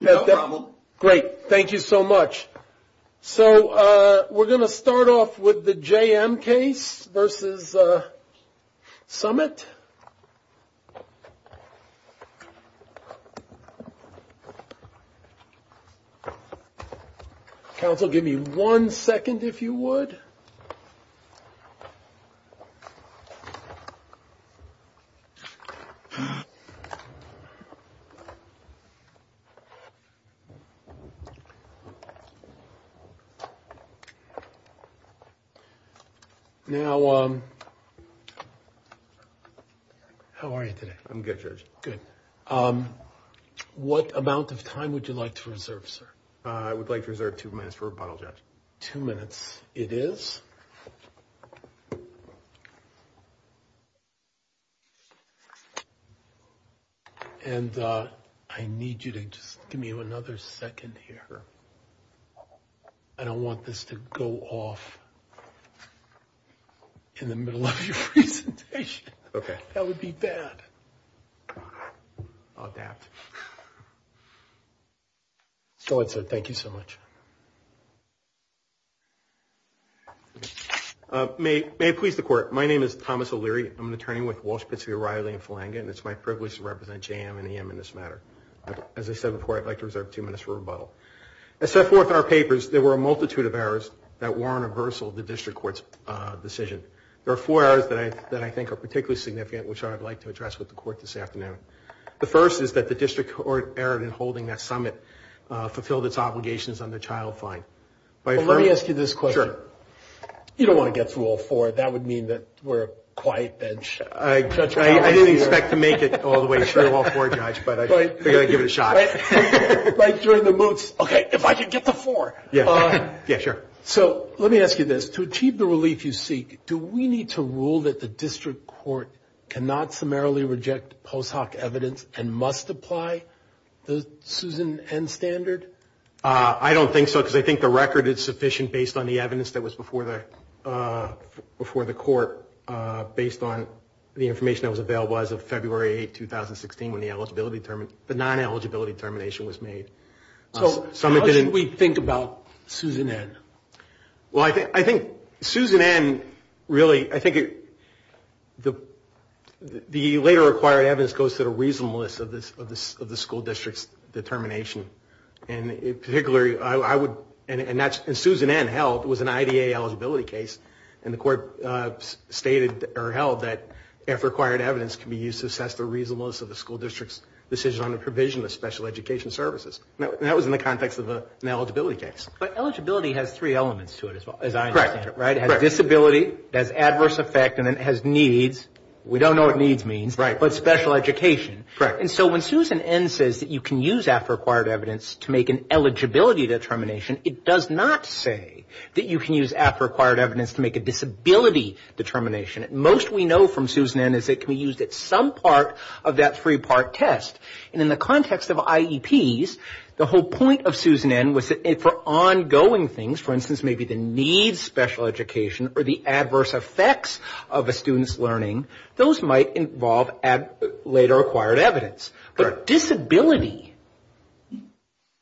No problem. Great. Thank you so much. So we're going to start off with the J.M. case versus Summit. Council, give me one second, if you would. Now, how are you today? I'm good, Judge. Good. What amount of time would you like to reserve, sir? I would like to reserve two minutes for rebuttal, Judge. Two minutes it is. And I need you to just give me another second here. I don't want this to go off in the middle of your presentation. Okay. That would be bad. I'll adapt. Go ahead, sir. Thank you so much. May it please the Court, my name is Thomas O'Leary. I'm an attorney with Walsh-Pizzeria, Riley & Falanga, and it's my privilege to represent J.M. and E.M. in this matter. As I said before, I'd like to reserve two minutes for rebuttal. As set forth in our papers, there were a multitude of errors that warrant reversal of the district court's decision. There are four errors that I think are particularly significant, which I'd like to address with the Court this afternoon. The first is that the district court erred in holding that Summit fulfilled its obligations on the child fine. Let me ask you this question. You don't want to get through all four. That would mean that we're a quiet bench. I didn't expect to make it all the way through all four, Judge, but I figured I'd give it a shot. Like during the moots, okay, if I could get to four. So let me ask you this. To achieve the relief you seek, do we need to rule that the district court cannot summarily reject post hoc evidence and must apply the Susan N. standard? I don't think so, because I think the record is sufficient based on the evidence that was before the court based on the information that was available as of February 8, 2016, when the non-eligibility determination was made. So how should we think about Susan N.? Well, I think Susan N. really, I think the later required evidence goes to the reasonableness of the school district's determination. And Susan N. held was an IDA eligibility case, and the court stated or held that if required evidence can be used to assess the reasonableness of the school district's determination. And that was in the context of an eligibility case. But eligibility has three elements to it, as I understand it, right? It has disability, it has adverse effect, and it has needs. We don't know what needs means, but special education. And so when Susan N. says that you can use after required evidence to make an eligibility determination, it does not say that you can use after required evidence to make a disability determination. Most we know from Susan N. is it can be used at some part of that three-part test. And in the context of IEPs, the whole point of Susan N. was that for ongoing things, for instance, maybe the needs special education or the adverse effects of a student's learning, those might involve later required evidence. But disability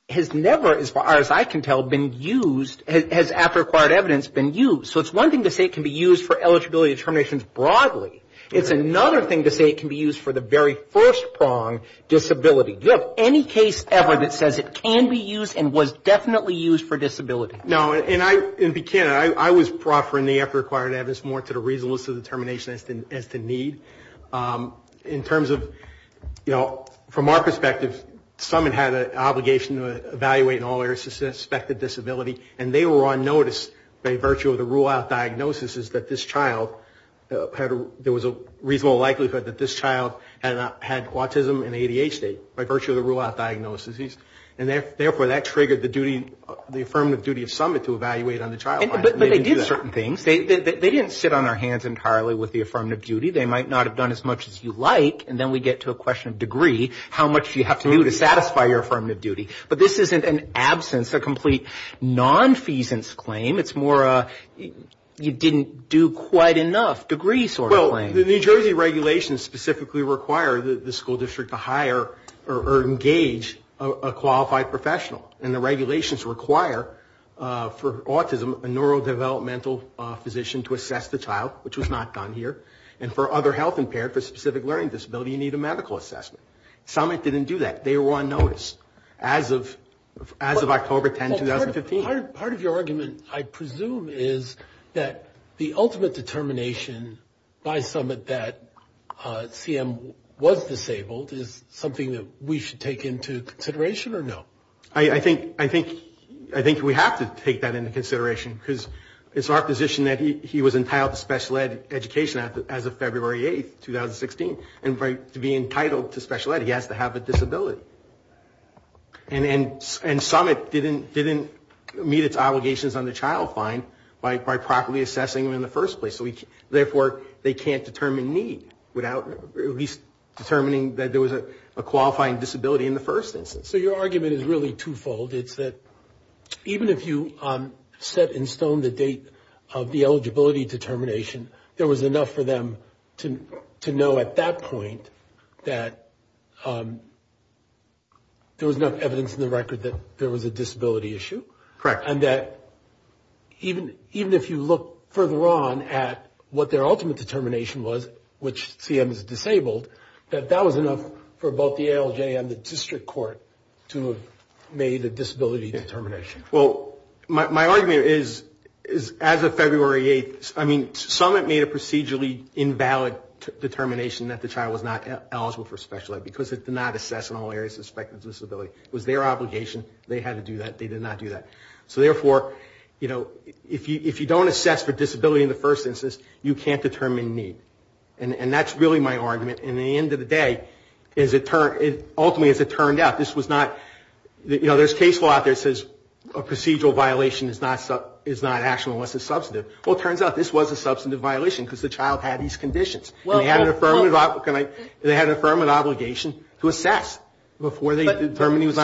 has never, as far as I can tell, been used, has after required evidence been used. So it's one thing to say it can be used for eligibility determinations broadly, it's another thing to say it can be used for the very first prong, disability. Do you have any case ever that says it can be used and was definitely used for disability? No, and I, I was proffering the after required evidence more to the reasonableness of the determination as to need. In terms of, you know, from our perspective, some had had an obligation to evaluate in all areas suspected disability, and they were on notice by virtue of the rule of law. The rule of law diagnosis is that this child had a, there was a reasonable likelihood that this child had autism in the ADH state by virtue of the rule of law diagnosis. And therefore, that triggered the duty, the affirmative duty of summit to evaluate on the child. But they did certain things. They didn't sit on our hands entirely with the affirmative duty. They might not have done as much as you like, and then we get to a question of degree, how much you have to do to satisfy your affirmative duty. But this isn't an absence, a complete non-feasance claim. It's more a, you didn't do quite enough degree sort of claim. Well, the New Jersey regulations specifically require the school district to hire or engage a qualified professional. And the regulations require for autism a neurodevelopmental physician to assess the child, which was not done here. And for other health impaired, for specific learning disability, you need a medical assessment. Summit didn't do that. They were on notice. As a matter of fact, they were on notice. And they were on notice as of October 10, 2015. Part of your argument, I presume, is that the ultimate determination by summit that CM was disabled is something that we should take into consideration or no? I think we have to take that into consideration. Because it's our position that he was entitled to special ed education as of February 8, 2016. And to be entitled to special ed, he has to have a disability. And summit didn't meet its obligations on the child fine by properly assessing him in the first place. Therefore, they can't determine need without at least determining that there was a qualifying disability in the first instance. So your argument is really two-fold. It's that even if you set in stone the date of the eligibility determination, there was enough for them to know at that point that there was enough evidence in the first place that he was eligible. And that even if you look further on at what their ultimate determination was, which CM is disabled, that that was enough for both the ALJ and the district court to have made a disability determination. Well, my argument is as of February 8, I mean, summit made a procedurally invalid determination that the child was not eligible for special ed. Because it did not assess in all areas of suspected disability. It was their obligation. They had to do that. They did not do that. So therefore, you know, if you don't assess for disability in the first instance, you can't determine need. And that's really my argument. And at the end of the day, ultimately as it turned out, this was not, you know, there's case law out there that says a procedural violation is not actual unless it's substantive. Well, it turns out this was a substantive violation because the child had these conditions. And they had an affirmative obligation to assess before they determined need.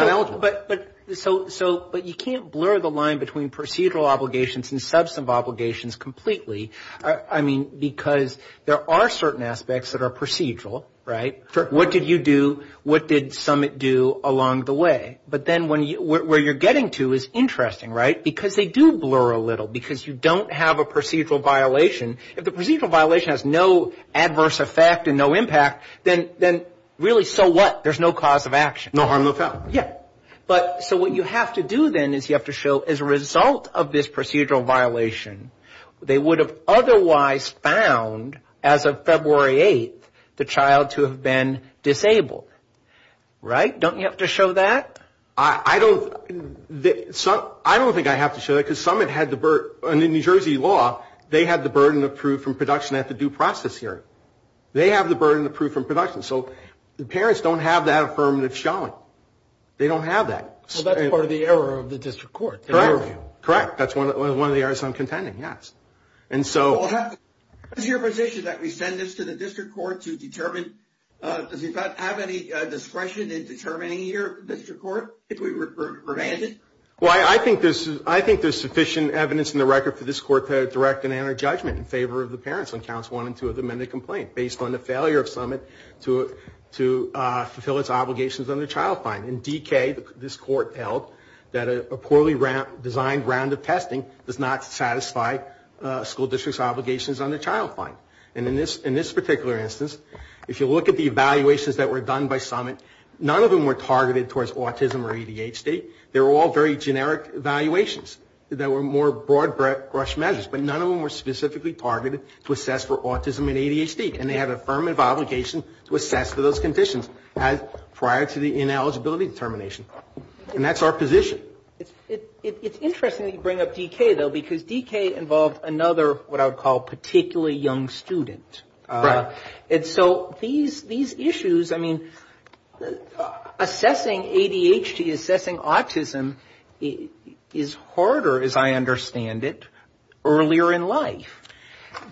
So, but you can't blur the line between procedural obligations and substantive obligations completely. I mean, because there are certain aspects that are procedural, right? What did you do? What did summit do along the way? But then where you're getting to is interesting, right? Because they do blur a little. Because you don't have a procedural violation. If the procedural violation has no adverse effect and no impact, then really so what? There's no cause of action. No harm, no foul. Yeah. But so what you have to do then is you have to show as a result of this procedural violation, they would have otherwise found as of February 8th, the child to have been disabled. Right? Don't you have to show that? I don't think I have to show that. Because in New Jersey law, they had the burden of proof from production at the due process hearing. They have the burden of proof from production. So the parents don't have that affirmative showing. They don't have that. Well, that's part of the error of the district court. Correct. That's one of the errors I'm contending, yes. Does your position that we send this to the district court to determine, does it not have any discretion in determining your district court if we were to prevent it? Well, I think there's sufficient evidence in the record for this court to direct and enter judgment in favor of the parents on counts one and two of the amended complaint, based on the failure of summit to approve it. To fulfill its obligations under child fine. In DK, this court held that a poorly designed round of testing does not satisfy school district's obligations under child fine. And in this particular instance, if you look at the evaluations that were done by summit, none of them were targeted towards autism or ADHD. They were all very generic evaluations that were more broad brush measures. But none of them were specifically targeted to assess for autism and ADHD. And they had affirmative obligation to assess for those conditions, prior to the ineligibility determination. And that's our position. It's interesting that you bring up DK, though, because DK involved another, what I would call, particularly young student. And so these issues, I mean, assessing ADHD, assessing autism is harder, as I understand it, earlier in life.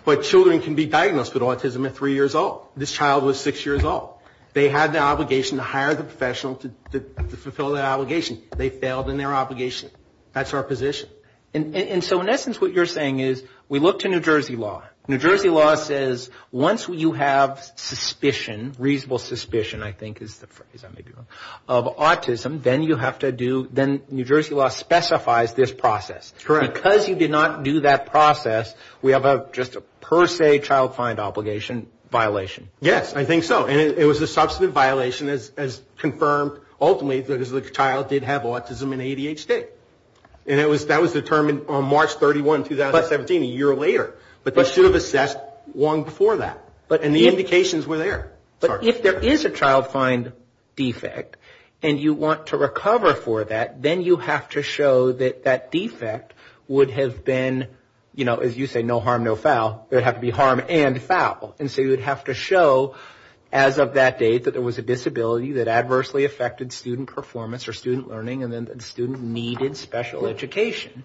But children can be diagnosed with autism at three years old. This child was six years old. They had the obligation to hire the professional to fulfill that obligation. They failed in their obligation. That's our position. And so in essence, what you're saying is, we look to New Jersey law. New Jersey law says, once you have suspicion, reasonable suspicion, I think is the phrase, of autism, then you have to do, then New Jersey law specifies this process. Because you did not do that process, we have just a per se child find obligation violation. Yes, I think so. And it was a substantive violation, as confirmed, ultimately, because the child did have autism and ADHD. And that was determined on March 31, 2017, a year later. But they should have assessed long before that. And the indications were there. But if there is a child find defect, and you want to recover for that, then you have to show that that defect is not there. And that that defect would have been, you know, as you say, no harm, no foul. It would have to be harm and foul. And so you would have to show, as of that date, that there was a disability that adversely affected student performance or student learning, and then the student needed special education.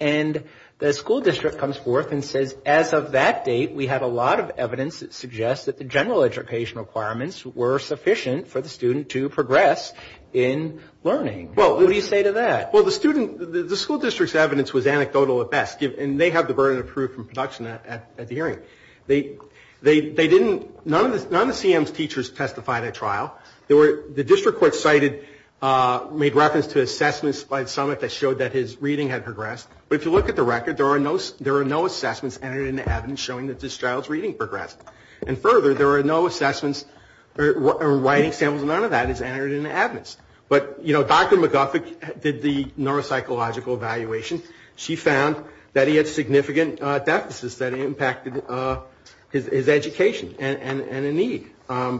And the school district comes forth and says, as of that date, we have a lot of evidence that suggests that the general education requirements were sufficient for the student to progress in learning. What do you say to that? Well, the school district's evidence was anecdotal at best, and they have the burden of proof and production at the hearing. None of the CM's teachers testified at trial. The district court cited, made reference to assessments by the summit that showed that his reading had progressed. But if you look at the record, there are no assessments entered into evidence showing that this child's reading progressed. And further, there are no assessments or writing samples, none of that is entered into evidence. But, you know, Dr. McGuffick did the neuropsychological evaluation. She found that he had significant deficits that impacted his education and a need.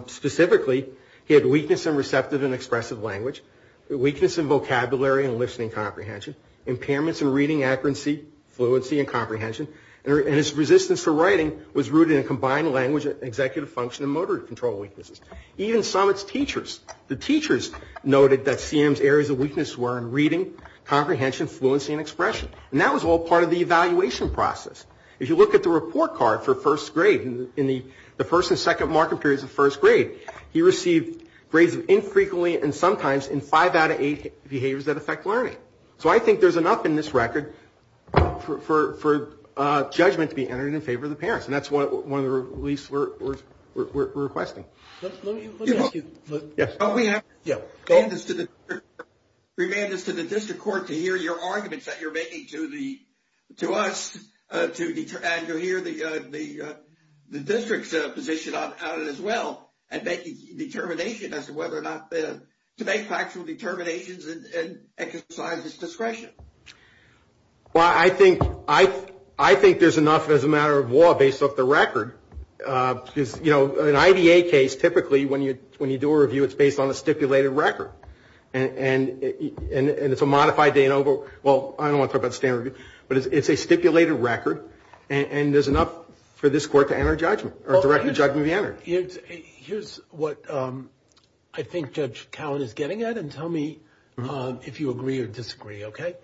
Specifically, he had weakness in receptive and expressive language, weakness in vocabulary and listening comprehension, impairments in reading accuracy, fluency, and comprehension, and his resistance to writing was rooted in combined language, executive function, and motor control weaknesses. Even summit's teachers, the teachers noted that CM's areas of weakness were in reading, comprehension, fluency, and expression. And that was all part of the evaluation process. If you look at the report card for first grade, in the first and second marking periods of first grade, he received grades infrequently and sometimes in five out of eight behaviors that affect learning. So I think there's enough in this record for judgment to be entered in favor of the parents. And that's one of the releases we're requesting. Let me ask you, remand us to the district court to hear your arguments that you're making to us, and to hear the district's position on it as well, and make a determination as to whether or not to make factual determinations and exercise discretion. Well, I think there's enough as a matter of law based off the record. You know, an IDA case, typically, when you do a review, it's based on a stipulated record. And it's a modified, well, I don't want to talk about standard review, but it's a stipulated record, and there's enough for this court to enter judgment, or a direct judgment to be entered. Here's what I think Judge Cowan is getting at, and tell me if you agree or disagree, okay?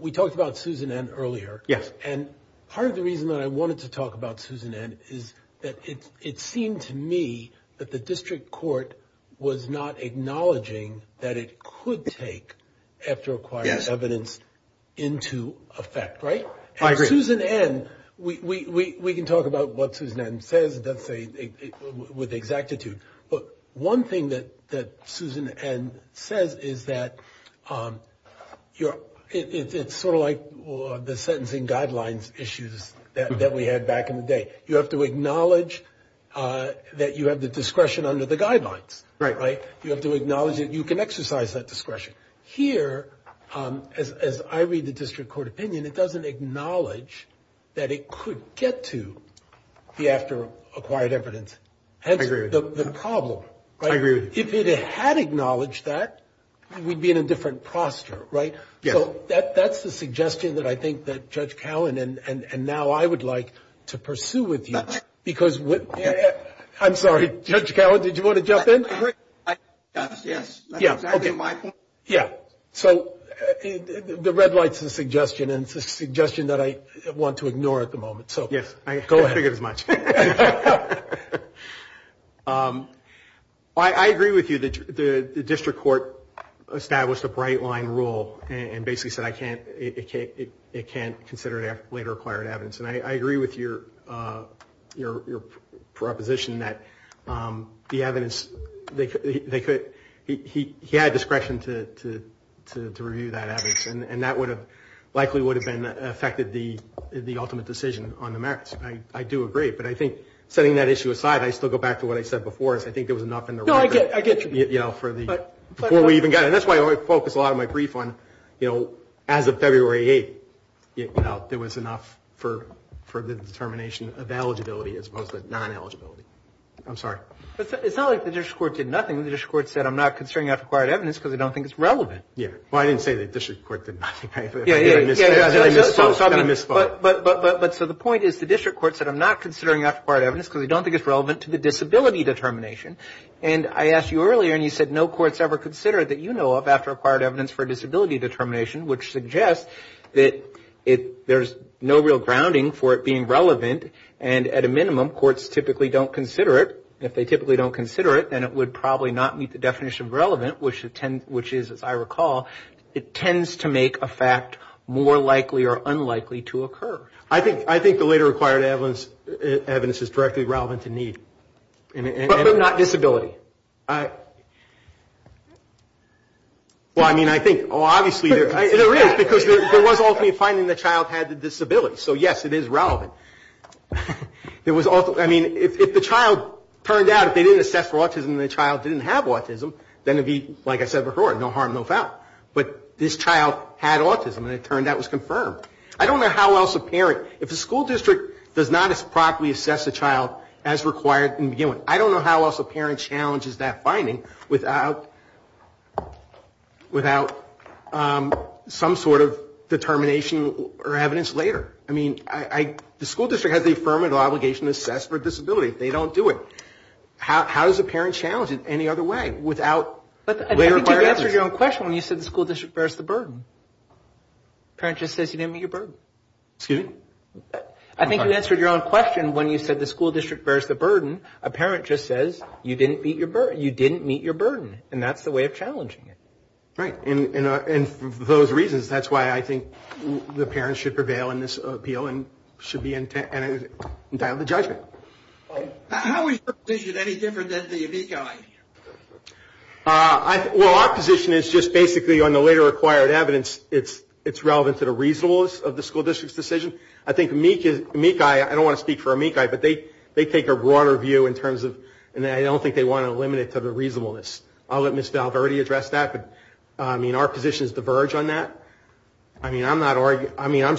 We talked about Susan N. earlier. And part of the reason that I wanted to talk about Susan N. is that it seemed to me that the district court was not acknowledging that it could take, after acquiring evidence, into effect, right? And Susan N., we can talk about what Susan N. says, let's say, with exactitude, but one thing that Susan N. says is that it's sort of like the sentence, if you will, that we had back in the day. You have to acknowledge that you have the discretion under the guidelines, right? You have to acknowledge that you can exercise that discretion. Here, as I read the district court opinion, it doesn't acknowledge that it could get to the after acquired evidence. I agree with you. If it had acknowledged that, we'd be in a different posture, right? So that's the suggestion that I think that Judge Cowan, and now I would like to pursue with you, because I'm sorry, Judge Cowan, did you want to jump in? Yes, that's exactly my point. Yeah, so the red light's a suggestion, and it's a suggestion that I want to ignore at the moment. Yes, I figured as much. I agree with you that the district court established a bright line rule, and basically said it can't consider later acquired evidence. And I agree with your proposition that the evidence, they could, he had discretion to review that evidence, and that would have, likely would have been affected the ultimate decision on the merits. I do agree. But I think, setting that issue aside, I still go back to what I said before, is I think there was enough in the record, you know, for the, before we even got it. And that's why I focus a lot of my brief on, you know, as of February 8th, you know, there was enough for the determination of eligibility as opposed to non-eligibility. I'm sorry. It's not like the district court did nothing, the district court said, I'm not considering after acquired evidence because I don't think it's relevant. Yeah, well, I didn't say the district court did nothing. But so the point is, the district court said, I'm not considering after acquired evidence because I don't think it's relevant to the disability determination. And I asked you earlier, and you said no court's ever considered that you know of after acquired evidence for disability determination, which suggests that there's no real grounding for it being relevant, and at a minimum, courts typically don't consider it. If they typically don't consider it, then it would probably not meet the definition of relevant, which is, as I recall, it tends to make a fact more likely or unlikely to occur. I think the later acquired evidence is directly relevant to need. But not disability. Well, I mean, I think, well, obviously there is, because there was ultimately finding the child had the disability, so yes, it is relevant. It was, I mean, if the child turned out, if they didn't assess for autism and the child didn't have autism, then it would be, like I said before, no harm, no foul. But this child had autism, and it turned out it was confirmed. I don't know how else a parent, if a school district does not properly assess a child as required in the beginning, I don't know how else a parent challenges that finding without some sort of determination or evidence later. I mean, the school district has the affirmative obligation to assess for disability. They don't do it. How does a parent challenge it any other way without later acquired evidence? I think you answered your own question when you said the school district bears the burden. A parent just says you didn't meet your burden, and that's the way of challenging it. Right, and for those reasons, that's why I think the parents should prevail in this appeal and should be entitled to judgment. How is your position any different than the amici? Well, our position is just basically on the later acquired evidence, it's relevant to the reasonableness of the school district's decision. I think amici, I don't want to speak for amici, but they take a broader view in terms of, and I don't think they want to limit it to the reasonableness. I'll let Ms. Valverde address that, but our positions diverge on that. I mean, I'm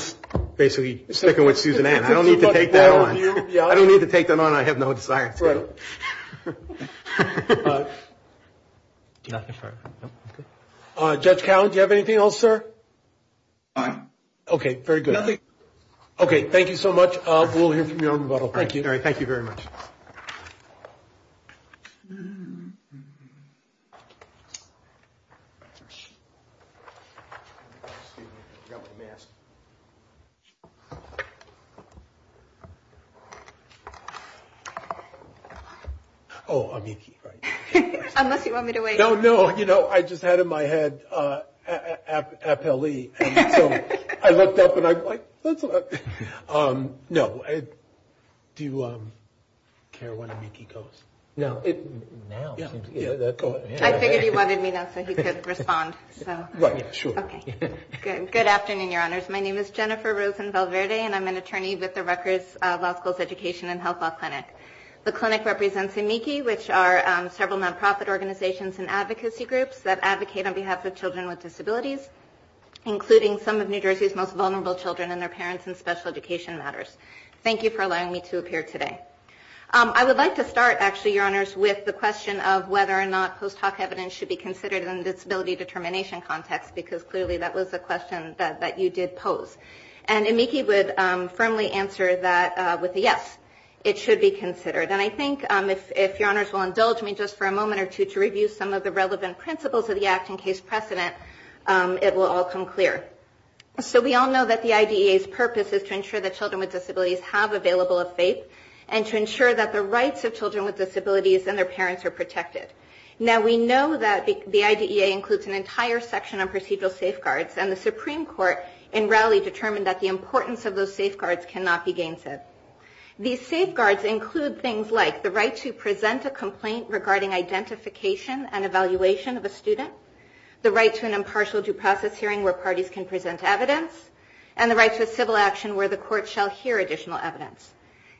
basically sticking with Susan Ann, I don't need to take that on. I don't need to take that on, I have no desire to. Judge Cowan, do you have anything else, sir? Nothing. Okay, thank you so much. We'll hear from you on rebuttal. Thank you very much. Oh, amici. No, do you care where amici goes? I figured you wanted me to, so you could respond. Right, sure. Good afternoon, your honors, my name is Jennifer Rosen-Valverde, and I'm an attorney with the Rutgers Law School's Education and Health Law Clinic. The clinic represents amici, which are several non-profit organizations and advocacy groups that advocate on behalf of children with disabilities, including some of New Jersey's most vulnerable children and their parents in special education matters. Thank you for allowing me to appear today. I would like to start, actually, your honors, with the question of whether or not post hoc evidence should be considered in a disability determination context, because clearly that was a question that you did pose. And amici would firmly answer that with a yes, it should be considered. And I think, if your honors will indulge me just for a moment or two to review some of the relevant principles of the act in case precedent, it will all come clear. So we all know that the IDEA's purpose is to ensure that children with disabilities have available of faith, and to ensure that the rights of children with disabilities and their parents are protected. Now, we know that the IDEA includes an entire section on procedural safeguards, and the Supreme Court in rally determined that the importance of those safeguards cannot be gainset. These safeguards include things like the right to present a complaint regarding identification and evaluation of a student, the right to an impartial due process hearing where parties can present evidence, and the right to a civil action where the court shall hear additional evidence.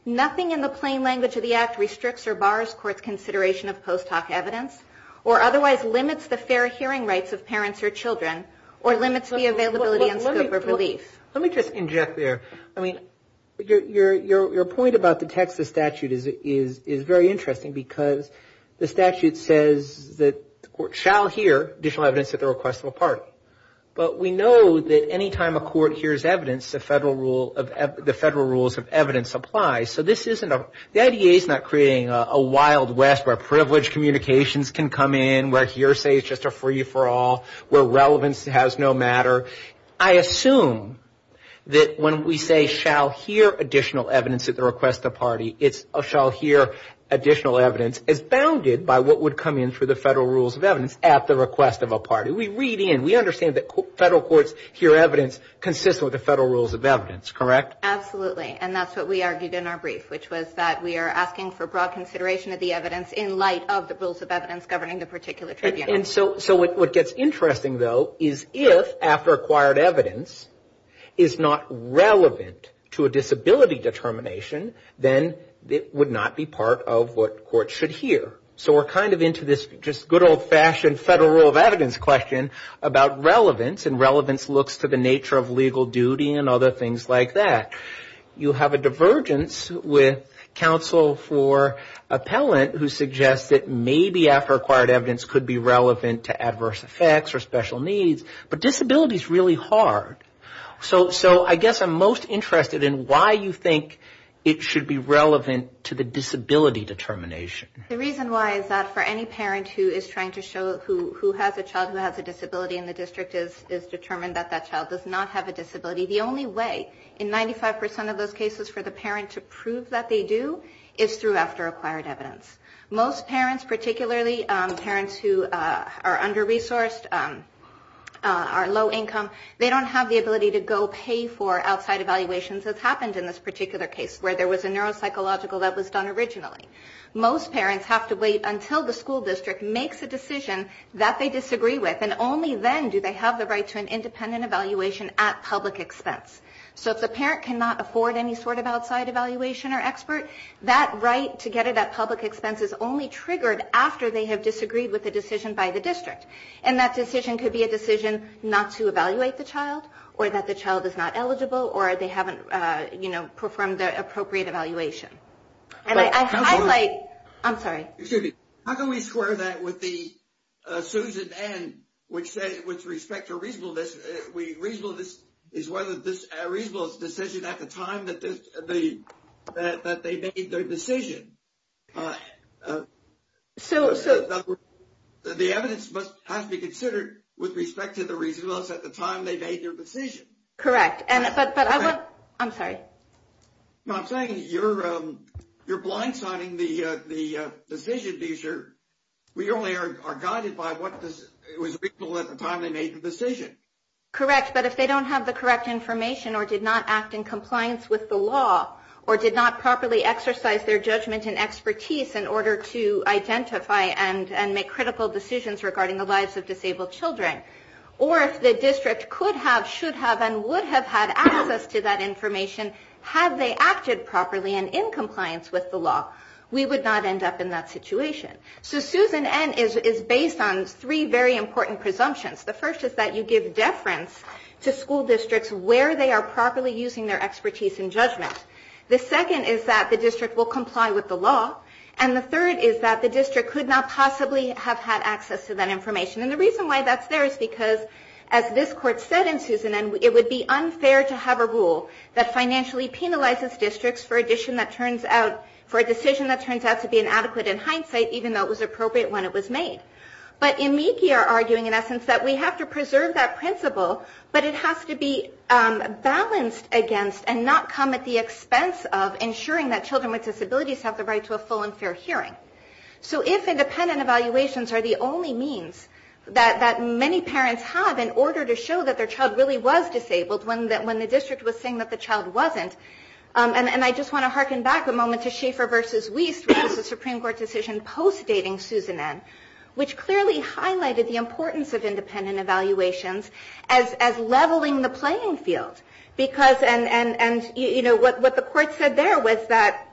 Nothing in the plain language of the act restricts or bars court's consideration of post hoc evidence, or otherwise limits the fair hearing rights of parents or children, or limits the availability and scope of relief. Let me just inject there, I mean, your point about the text of the statute is very interesting, because the statute says that the court shall hear additional evidence at the request of a party. But we know that any time a court hears evidence, the federal rules of evidence apply. So this isn't a, the IDEA is not creating a wild west where privileged communications can come in, where hearsay is just a free-for-all, where relevance has no matter. I assume that when we say shall hear additional evidence at the request of a party, it's shall hear additional evidence as bounded by what would come in through the federal rules of evidence at the request of a party. We read in, we understand that federal courts hear evidence consistent with the federal rules of evidence, correct? Absolutely, and that's what we argued in our brief, which was that we are asking for broad consideration of the evidence in light of the rules of evidence governing the particular tribunal. And so what gets interesting, though, is if, after acquired evidence, is not relevant to a disability determination, then it would not be part of what courts should hear. So we're kind of into this just good old-fashioned federal rule of evidence question about relevance, and relevance looks to the nature of legal duty and other things like that. You have a divergence with counsel for appellant who suggests that maybe after acquired evidence could be relevant to adverse effects or special needs, but disability is really hard. So I guess I'm most interested in why you think it should be relevant to the disability determination. The reason why is that for any parent who is trying to show, who has a child who has a disability in the district is that that child does not have a disability, the only way in 95% of those cases for the parent to prove that they do is through after acquired evidence. Most parents, particularly parents who are under-resourced, are low-income, they don't have the ability to go pay for outside evaluations as happened in this particular case, where there was a neuropsychological that was done originally. Most parents have to wait until the school district makes a decision that they disagree with, and only then do they have the right to an independent evaluation at public expense. So if the parent cannot afford any sort of outside evaluation or expert, that right to get it at public expense is only triggered after they have disagreed with a decision by the district, and that decision could be a decision not to evaluate the child, or that the child is not eligible, or they haven't performed the appropriate evaluation. And I highlight, I'm sorry. Excuse me, how can we square that with the Susan N., which said with respect to reasonableness, reasonableness is whether this reasonable decision at the time that they made their decision. So the evidence must have to be considered with respect to the reasonableness at the time they made their decision. Correct. You're blindsiding the decision, we only are guided by what was reasonable at the time they made the decision. Correct, but if they don't have the correct information, or did not act in compliance with the law, or did not properly exercise their judgment and expertise in order to identify and make critical decisions regarding the lives of disabled children, or if the district could have, should have, had a reasonable decision, and would have had access to that information, had they acted properly and in compliance with the law, we would not end up in that situation. So Susan N. is based on three very important presumptions. The first is that you give deference to school districts where they are properly using their expertise in judgment. The second is that the district will comply with the law, and the third is that the district could not possibly have had access to that information. And the reason why that's there is because, as this Court said in Susan N., it would be unfair to have a rule that financially penalizes districts for a decision that turns out to be inadequate in hindsight, even though it was appropriate when it was made. But in Meekeyer, arguing in essence that we have to preserve that principle, but it has to be balanced against and not come at the expense of ensuring that children with disabilities have the right to a full and fair hearing. That many parents have in order to show that their child really was disabled when the district was saying that the child wasn't. And I just want to harken back a moment to Schaefer v. Wiest, which was a Supreme Court decision post-dating Susan N., which clearly highlighted the importance of independent evaluations as leveling the playing field. Because, and you know, what the Court said there was that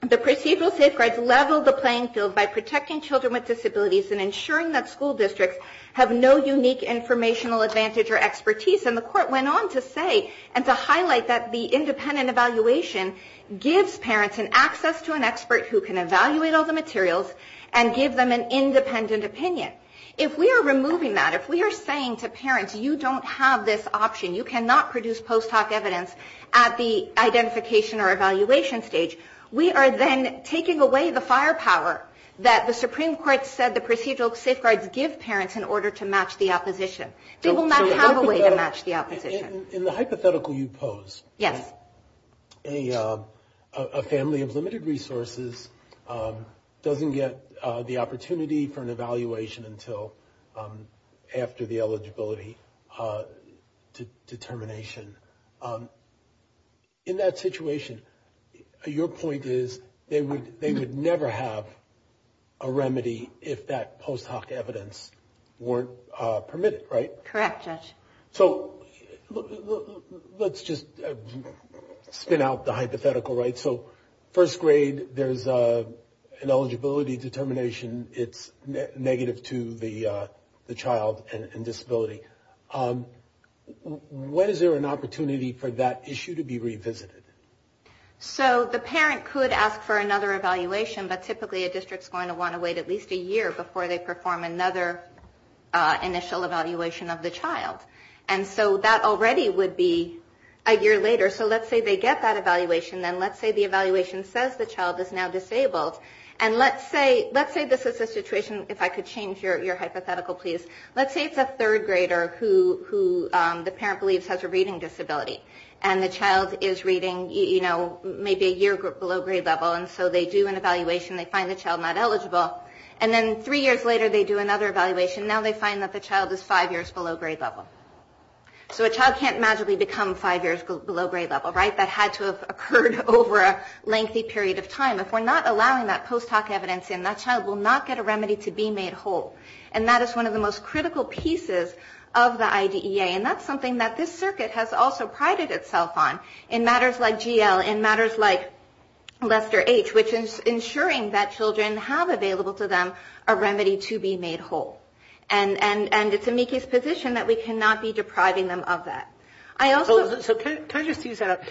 the procedural safeguards level the playing field by protecting children with disabilities who have no unique informational advantage or expertise. And the Court went on to say and to highlight that the independent evaluation gives parents an access to an expert who can evaluate all the materials and give them an independent opinion. If we are removing that, if we are saying to parents, you don't have this option, you cannot produce post-hoc evidence at the identification or evaluation stage, we are then taking away the firepower that the Supreme Court said the procedural safeguards give parents in order to match the opposition. They will not have a way to match the opposition. In the hypothetical you pose, a family of limited resources doesn't get the opportunity for an evaluation until after the eligibility determination. In that situation, your point is they would never have a remedy if that post-hoc evidence wasn't there. Correct, Judge. So, let's just spin out the hypothetical. First grade, there's an eligibility determination, it's negative to the child and disability. When is there an opportunity for that issue to be revisited? So, the parent could ask for another evaluation, but typically a district is going to want to wait at least a year before they perform another initial evaluation of the child. And so that already would be a year later. So, let's say they get that evaluation, then let's say the evaluation says the child is now disabled. And let's say this is a situation, if I could change your hypothetical please, let's say it's a third grader who the parent believes has a reading disability and the child is reading maybe a year below grade level and so they do an evaluation, they find the child not reading, they find that the child is five years below grade level. So, a child can't magically become five years below grade level, right? That had to have occurred over a lengthy period of time. If we're not allowing that post-hoc evidence in, that child will not get a remedy to be made whole. And that is one of the most critical pieces of the IDEA and that's something that this circuit has also prided itself on in matters like GL, in matters like Lester H, which is ensuring that children have available to them a remedy to be made whole. And it's amici's position that we cannot be depriving them of that. So, can I just use that?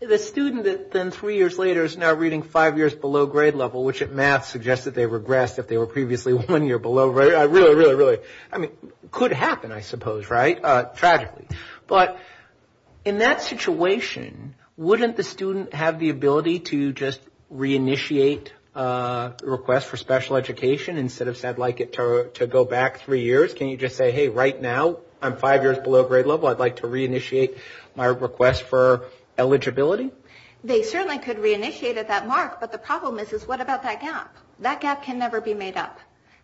The student then three years later is now reading five years below grade level, which at math suggests that they regressed if they were previously one year below grade level. Really, really, really. I mean, could happen, I suppose, right? Tragically. But in that situation, wouldn't the student have the ability to just reinitiate a request for special education instead of say, I'd like it to go back three years? Can you just say, hey, right now, I'm five years below grade level, I'd like to reinitiate my request for eligibility? They certainly could reinitiate at that mark, but the problem is, is what about that gap? That gap can never be made up.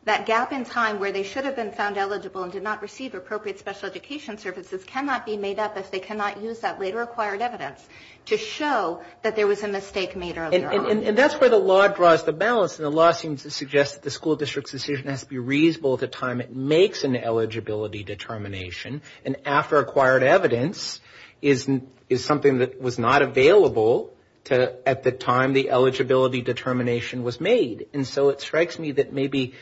That gap in time where they should have been found eligible and did not receive appropriate special education services cannot be made up if they cannot use that later acquired evidence to show that there was a mistake made earlier on. And that's where the law draws the balance. And the law seems to suggest that the school district's decision has to be reasonable at the time it makes an eligibility determination. And after acquired evidence is something that was not available at the time the eligibility determination was made. And so it strikes me that maybe,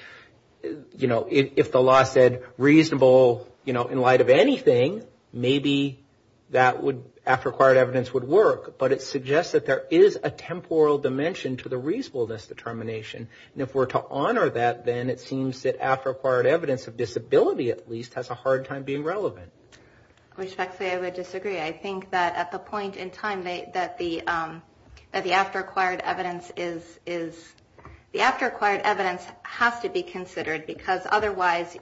you know, if the law said reasonable, you know, in light of anything, maybe that would, after acquired evidence would work. But it suggests that there is a temporal dimension to the reasonableness determination. And if we're to honor that, then it seems that after acquired evidence of disability, at least, has a hard time being relevant. I respectfully would disagree. I think that at the point in time that the after acquired evidence is, the after acquired evidence has to be considered, because otherwise,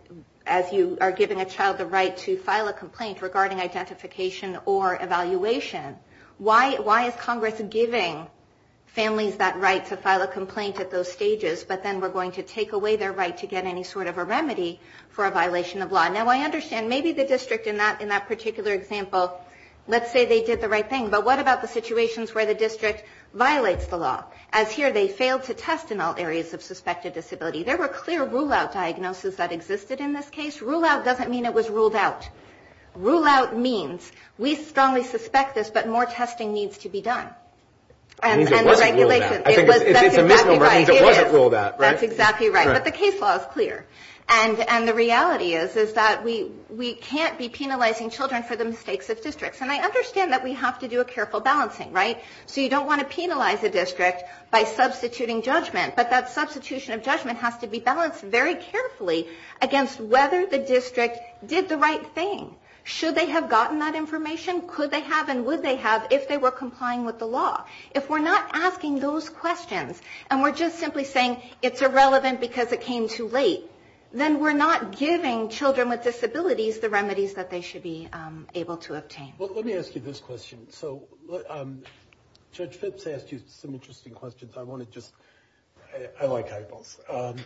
as you are giving a child the right to file a complaint regarding identification or evaluation, why is Congress giving families that right to file a complaint at those stages, but then we're going to take away their right to get any sort of a remedy for a violation of law? Now I understand, maybe the district in that particular example, let's say they did the right thing, but what about the situations where the district violates the law? As here, they failed to test in all areas of suspected disability. There were clear rule-out diagnoses that existed in this case. Rule-out doesn't mean it was ruled out. Rule-out means we strongly suspect this, but more testing needs to be done. And the regulation... That's exactly right. But the case law is clear. And the reality is that we can't be penalizing children for the mistakes of districts. And I understand that we have to do a careful balancing, right? So you don't want to penalize a district by substituting judgment, but that substitution of judgment has to be balanced very carefully against whether the district did the right thing. Should they have gotten that remedy? Should they have been penalized for violating the law? If we're not asking those questions, and we're just simply saying it's irrelevant because it came too late, then we're not giving children with disabilities the remedies that they should be able to obtain. Well, let me ask you this question. So Judge Phipps asked you some interesting questions. I want to just... I like hypotheticals.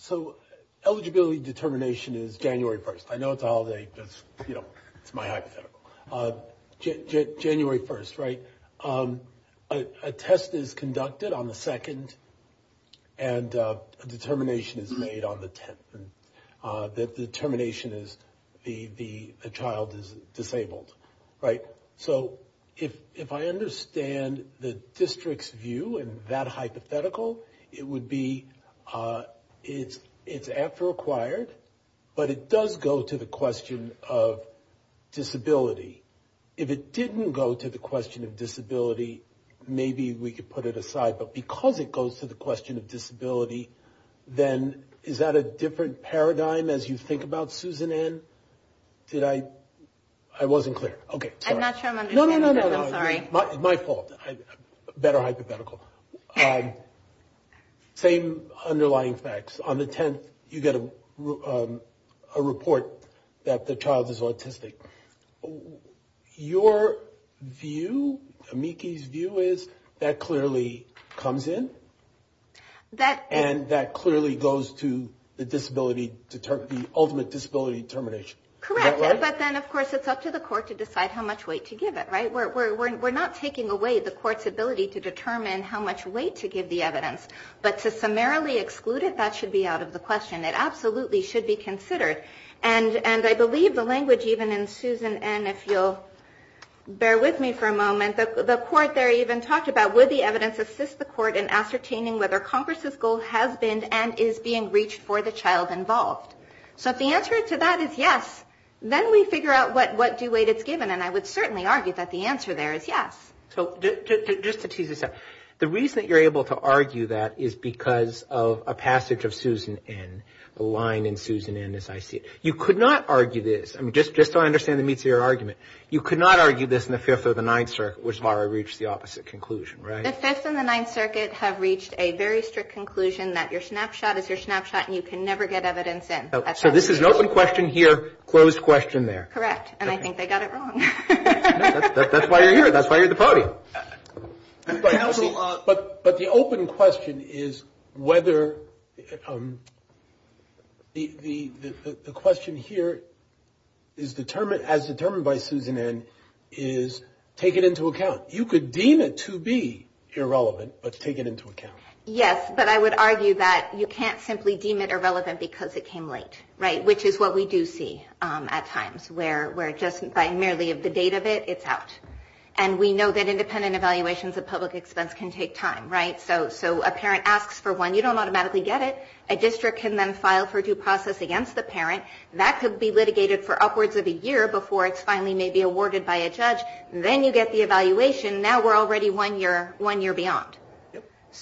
So eligibility determination is January 1st. I know it's a holiday, but it's my hypothetical. January 1st, right? A test is conducted on the 2nd, and a determination is made on the 10th. The determination is the child is disabled, right? So if I understand the district's view in that hypothetical, it would be it's after acquired, but it does go to the question of disability. Maybe we could put it aside, but because it goes to the question of disability, then is that a different paradigm as you think about Susan Ann? Did I... I wasn't clear. Okay. Sorry. I'm not sure I'm understanding. I'm sorry. No, no, no, no. My fault. Better hypothetical. Same underlying facts. On the 10th, you get a report that the child is autistic. Your view, amici's view is that clearly comes in, and that clearly goes to the disability... the ultimate disability determination. Correct. But then, of course, it's up to the court to decide how much weight to give it, right? We're not taking away the court's ability to determine how much weight to give the evidence, but to summarily exclude it, that should be out of the question. It absolutely should be excluded. And Susan Ann, if you'll bear with me for a moment, the court there even talked about would the evidence assist the court in ascertaining whether Congress's goal has been and is being reached for the child involved. So if the answer to that is yes, then we figure out what due weight it's given, and I would certainly argue that the answer there is yes. So just to tease this out, the reason that you're able to argue that is because of a passage of Susan Ann, a line in Susan Ann, as I said, you could not argue this. I mean, just so I understand the meats of your argument, you could not argue this in the Fifth or the Ninth Circuit, which is why I reached the opposite conclusion, right? The Fifth and the Ninth Circuit have reached a very strict conclusion that your snapshot is your snapshot and you can never get evidence in. So this is an open question here, closed question there. That's why you're here. That's why you're at the podium. But the open question is whether the question here is determined, as determined by Susan Ann, is taken into account. You could deem it to be irrelevant, but take it into account. Yes, but I would argue that you can't simply deem it irrelevant because it came late, right, which is what we do see at times, where just by looking at the date of it, it's out. And we know that independent evaluations of public expense can take time, right? So a parent asks for one, you don't automatically get it. A district can then file for due process against the parent. That could be litigated for upwards of a year before it's finally maybe awarded by a judge. Then you get the evaluation. Now we're already one year beyond.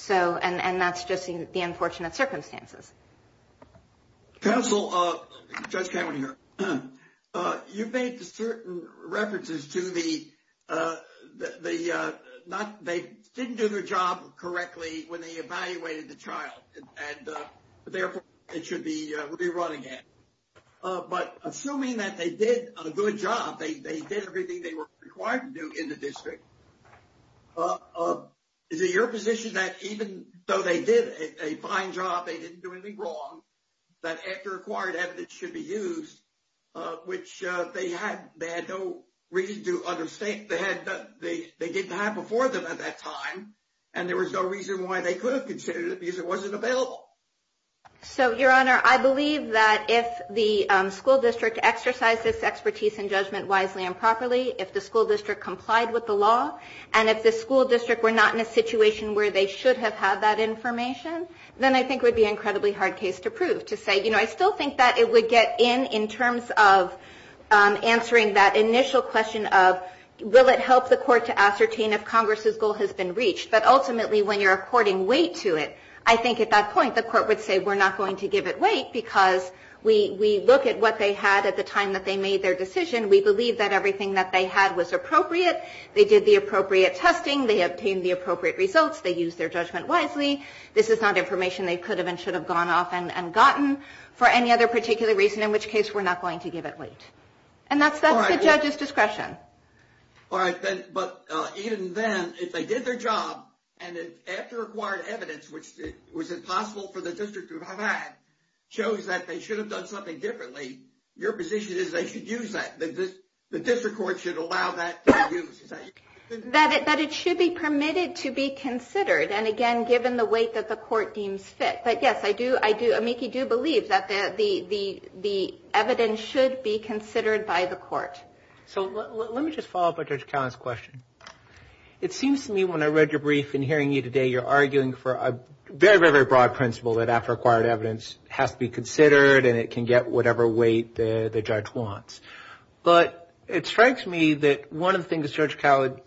And that's just the unfortunate circumstances. Counsel, Judge Cameron here. You've made certain references to the... They didn't do their job correctly when they evaluated the child. Therefore, it should be re-run again. But assuming that they did a good job, they did everything they were required to do in the district, is it your position that even though they did a fine job, they didn't do anything wrong, that after acquired evidence should be used, which they had no reason to understand. They didn't have before them at that time, and there was no reason why they could have considered it because it wasn't available. So, Your Honor, I believe that if the school district exercised this expertise and judgment wisely and properly, if the school district complied with the law, and if the school district were not in a situation where they should have had that information, then I think it would be an incredibly hard case to prove. To say, you know, I still think that it would get in in terms of answering that initial question of, will it help the court to ascertain if Congress's goal has been reached, but ultimately when you're according weight to it, I think at that point the court would say, we're not going to give it weight because we look at what they had at the time that they made their decision. We believe that everything that they had was appropriate. They did the appropriate testing. They obtained the appropriate results. They used their judgment wisely. This is not information they could have and should have gone off and gotten for any other particular reason, in which case we're not going to give it weight. And that's the judge's discretion. All right. But even then, if they did their job and after acquired evidence, which was impossible for the district to have had, shows that they should have done something differently, your position is they should use that, that the district court should allow that to be used. That it should be permitted to be considered, and again, given the weight that the court deems fit. But yes, I do, I do, amici do believe that the evidence should be considered by the court. So let me just follow up on Judge Cowen's question. It seems to me when I read your brief and hearing you today, you're arguing for a very, very, very broad principle that after acquired evidence has to be considered and it can get whatever weight the judge wants. But it strikes me that one of the things Judge Cowen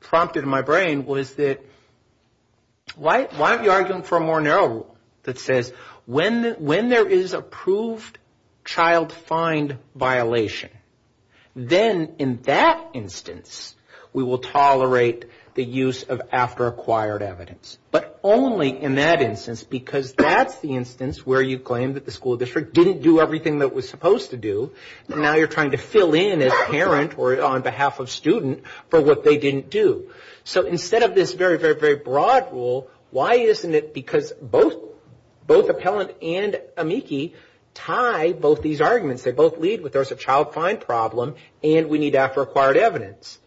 prompted in my brain was that why aren't you arguing for a more narrow rule that says when there is approved child find violation, then in that instance we will tolerate the use of because that's the instance where you claim that the school district didn't do everything that it was supposed to do, and now you're trying to fill in as a parent or on behalf of a student for what they didn't do. So instead of this very, very, very broad rule, why isn't it because both appellant and amici tie both these arguments. They both lead with there's a child find problem and we need after acquired evidence.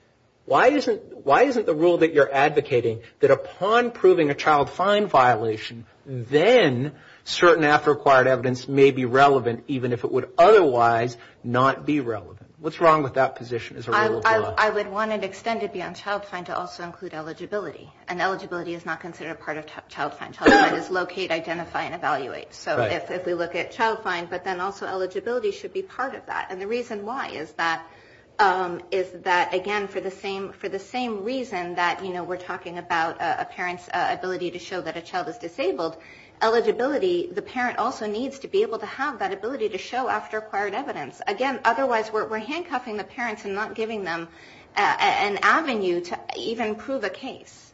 Why isn't the rule that you're advocating that upon proving a child find violation, then certain after acquired evidence may be relevant even if it would otherwise not be relevant. What's wrong with that position as a rule of law? I would want it extended beyond child find to also include eligibility. And eligibility is not considered a part of child find. Child find is locate, identify, and evaluate. So if we look at child find, but then also eligibility should be part of that. And the reason why is that again for the same reason that we're talking about a parent's ability to show that a child is disabled. Eligibility, the parent also needs to be able to have that ability to show after acquired evidence. Again, otherwise we're handcuffing the parents and not giving them an avenue to even prove a case.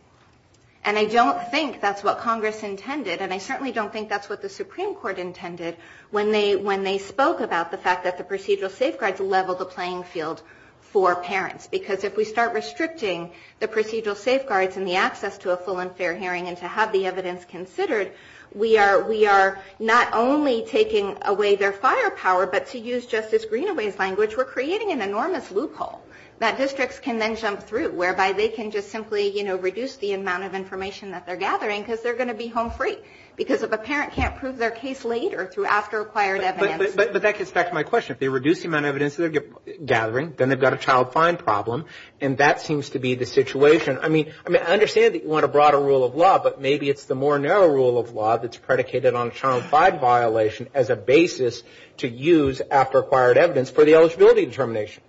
And I don't think that's what Congress intended, and I certainly don't think that's what the Supreme Court intended when they spoke about the fact that the procedural safeguards level the playing field for parents. Because if we start restricting the procedural safeguards and the access to a full and fair hearing and to have the evidence considered, we are not only taking away their firepower, but to use Justice Greenaway's language, we're creating an enormous loophole that districts can then jump through, whereby they can just simply reduce the amount of information that they're gathering because they're going to be home free. Because if a parent can't prove their case later through after acquired evidence. But that gets back to my question, if they reduce the amount of evidence that they're gathering, then they've got a child fine problem, and that seems to be the situation. I mean, I understand that you want a broader rule of law, but maybe it's the more narrow rule of law that's predicated on a child fine violation as a basis to use after acquired evidence for the eligibility determination.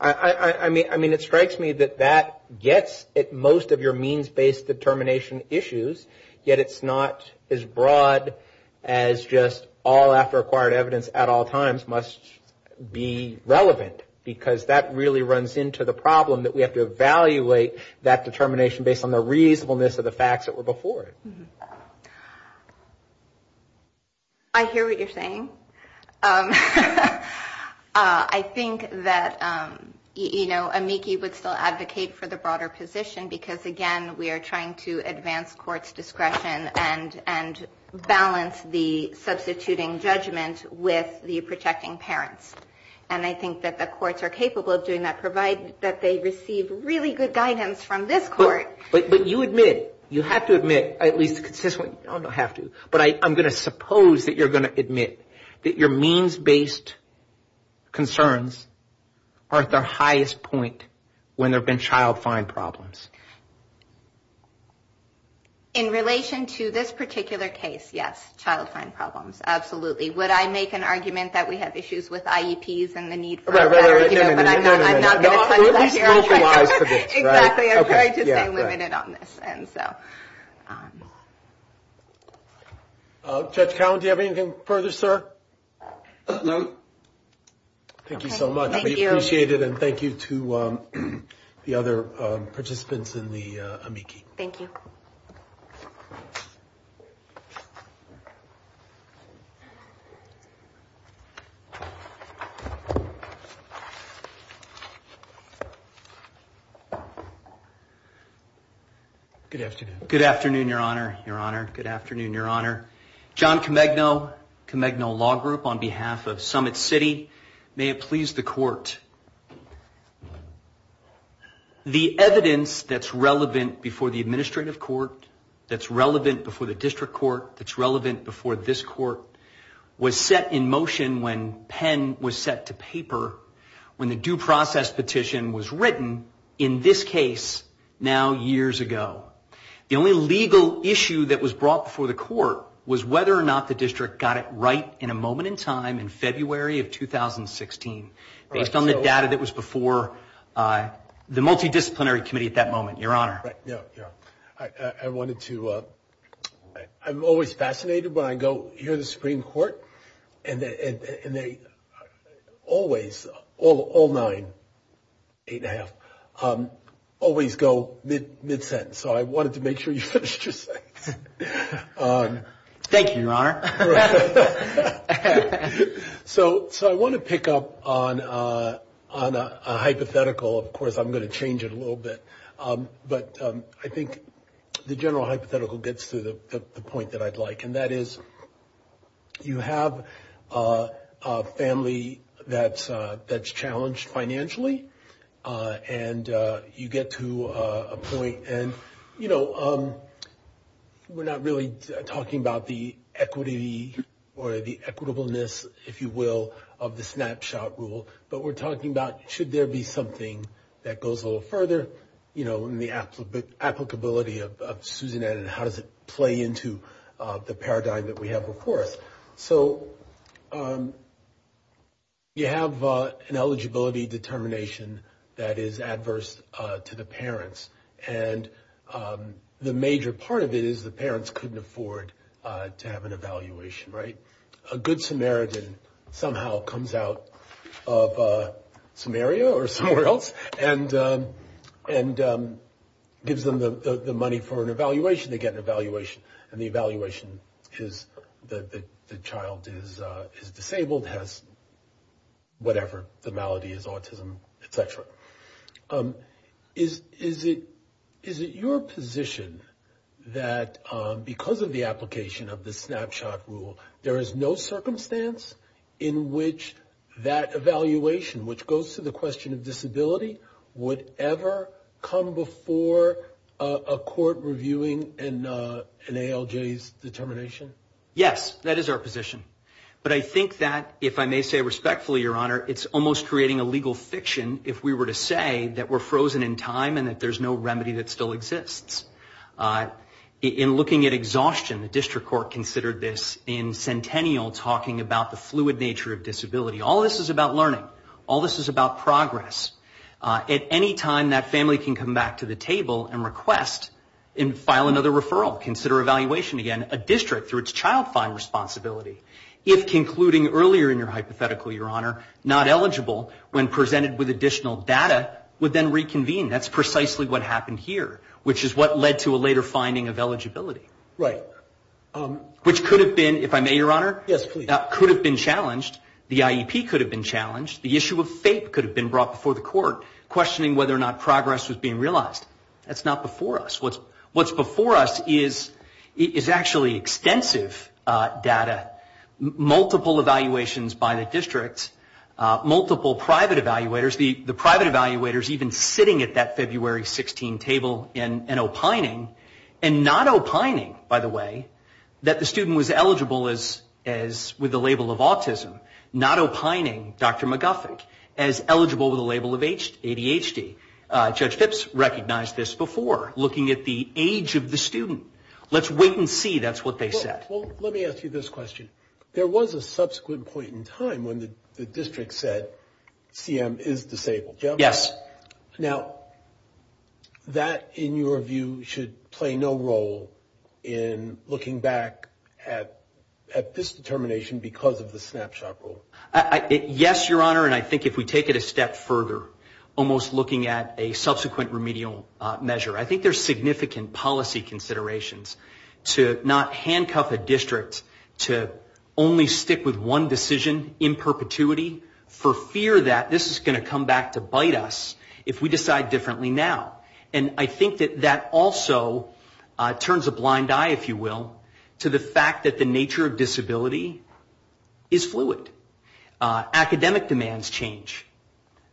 I mean, it strikes me that that gets at most of your means-based determination issues, yet it's not as broad as just all after acquired evidence at all times must be relevant, because that really runs into the problem that we have to evaluate that determination based on the reasonableness of the facts that were before it. I hear what you're saying. I think that, you know, amici would still advocate for the broader position, because, again, we are trying to advance court's discretion and balance the substituting judgment with the protecting parents. And I think that the courts are capable of doing that, provided that they receive really good guidance from this court. But you admit, you have to admit, at least consistently, you don't have to, but I'm going to suppose that you're going to admit that your means-based concerns are at their highest point when there have been child fine problems. In relation to this particular case, yes, child fine problems, absolutely. Would I make an argument that we have issues with IEPs and the need for them, but I'm not going to touch that here. Exactly, I'm trying to stay limited on this. Judge Cowen, do you have anything further, sir? No. Thank you so much, we appreciate it, and thank you to the other participants in the amici. Thank you. Good afternoon. I'm Judge Cowen, I'm a member of the District Court's legal group on behalf of Summit City. May it please the court, the evidence that's relevant before the administrative court, that's relevant before the district court, that's relevant before this court, was set in motion when Penn was set to paper, when the due process petition was written, in this case, now years ago. It was set in time in February of 2016, based on the data that was before the multidisciplinary committee at that moment, your honor. I'm always fascinated when I hear the Supreme Court, and they always, all nine, eight and a half, always go mid-sentence, so I wanted to make sure you finished your sentence. Thank you, your honor. So I want to pick up on a hypothetical, of course I'm going to change it a little bit, but I think the general hypothetical gets to the point that I'd like, and that is, you have a family that's challenged financially, and you get to a point, and you know, we're not really talking about the equity, or the equitableness, if you will, of the snapshot rule, but we're talking about should there be something that goes a little further, you know, in the applicability of Susanette, and how does it play into the paradigm that we have before us. So you have an eligibility determination that is adverse to the parents, and the major part of it is the parents couldn't afford to have an evaluation, right? A good Samaritan somehow comes out of Samaria, or somewhere else, and gives them the money for an evaluation, they get an evaluation, and the evaluation is that the child is disabled, has whatever, the malady is autism, et cetera. Is it your position that because of the application of the snapshot rule, there is no circumstance in which that evaluation, which goes to the question of disability, would ever come before a court reviewing an ALJ's determination? Yes, that is our position, but I think that, if I may say respectfully, Your Honor, it's almost creating a legal fiction if we were to say that we're frozen in time, and that there's no remedy that still exists. In looking at exhaustion, the district court considered this in Centennial, talking about the fluid nature of disability. All this is about learning, all this is about progress. At any time that family can come back to the table and request, and file another referral, consider evaluation again, a district, through its child find responsibility, if concluding earlier in your hypothetical, Your Honor, not eligible, when presented with additional data, would then reconvene. That's precisely what happened here, which is what led to a later finding of eligibility. Which could have been, if I may, Your Honor, could have been challenged. The IEP could have been challenged. The issue of fate could have been brought before the court, questioning whether or not progress was being realized. That's not before us. What's before us is actually extensive data, multiple evaluations by the district, multiple private evaluators, the private evaluators even sitting at that February 16 table, and opining, and not opining, by the way, that the student was eligible with the label of autism. Not opining, Dr. McGuffick, as eligible with the label of ADHD. Judge Phipps recognized this before, looking at the age of the student. Let's wait and see, that's what they said. Let me ask you this question. There was a subsequent point in time when the district said CM is disabled. Now, that, in your view, should play no role in looking back at this determination because of the snapshot rule. Yes, Your Honor, and I think if we take it a step further, almost looking at a subsequent remedial measure, I think there's significant policy considerations to not handcuff a district to only stick with one decision in perpetuity for fear that this is going to come back to bite us if we decide differently now. And I think that that also turns a blind eye, if you will, to the fact that the nature of disability is fluid. Academic demands change.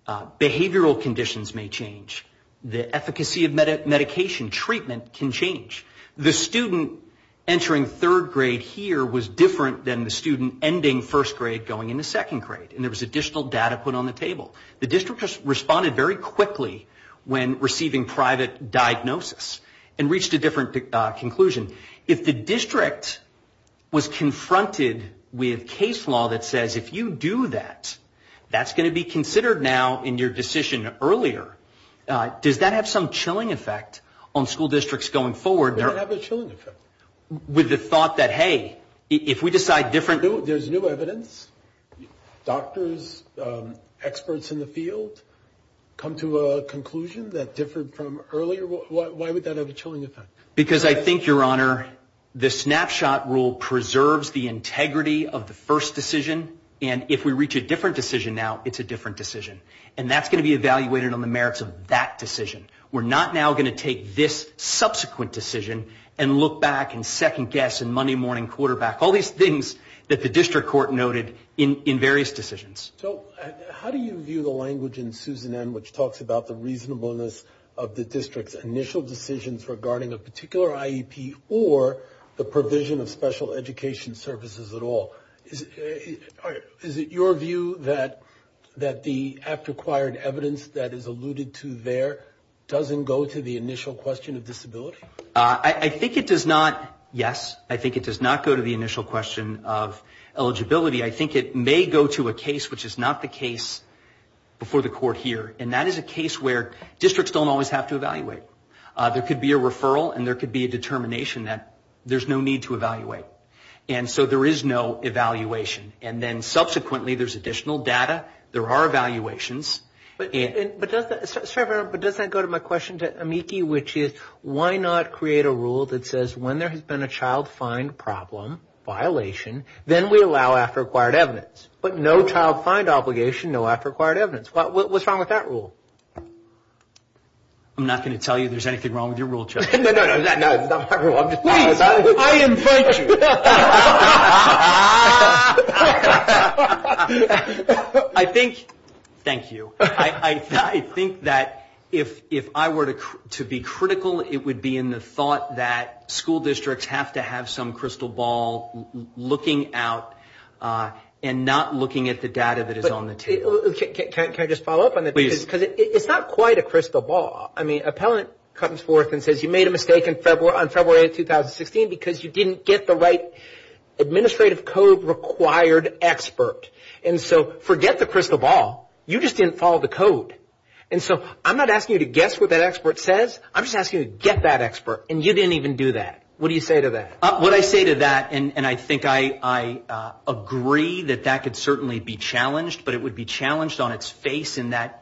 Behavioral conditions may change. The efficacy of medication treatment can change. The student entering third grade here was different than the student ending first grade going into second grade, and there was additional data put on the table. The district responded very quickly when receiving private diagnosis and reached a different conclusion. If the district was confronted with case law that says if you do that, that's going to be considered now in your decision earlier, does that have some chilling effect on school districts going forward? With the thought that, hey, if we decide different... There's new evidence. Doctors, experts in the field come to a conclusion that differed from earlier. Why would that have a chilling effect? Because I think, Your Honor, the snapshot rule preserves the integrity of the first decision, and if we reach a different decision now, it's a different decision. And that's going to be evaluated on the merits of that decision. We're not now going to take this subsequent decision and look back and second guess and Monday morning quarterback, all these things that the district court noted in various decisions. So how do you view the language in Susan N., which talks about the reasonableness of the district's initial decisions regarding a particular IEP, or the provision of special education services at all? Is it your view that the acquired evidence that is alluded to there I think it does not, yes, I think it does not go to the initial question of eligibility. I think it may go to a case which is not the case before the court here. And that is a case where districts don't always have to evaluate. There could be a referral and there could be a determination that there's no need to evaluate. And so there is no evaluation. And then subsequently there's additional data. There are evaluations. But does that go to my question to Amiki, which is why not create a rule that says when there has been a child find problem, violation, then we allow after acquired evidence. But no child find obligation, no after acquired evidence. What's wrong with that rule? I'm not going to tell you there's anything wrong with your rule, Joe. Please, I invite you. I think, thank you, I think that if I were to be critical, it would be in the thought that school districts have to have some crystal ball looking out and not looking at the data that is on the table. Can I just follow up on that? It's not quite a crystal ball. I mean, appellant comes forth and says you made a mistake on February of 2016 because you didn't get the right administrative code required expert. And so forget the crystal ball. You just didn't follow the code. And so I'm not asking you to guess what that expert says. I'm just asking you to get that expert. And you didn't even do that. What do you say to that? What I say to that, and I think I agree that that could certainly be challenged, but it would be challenged on its face in that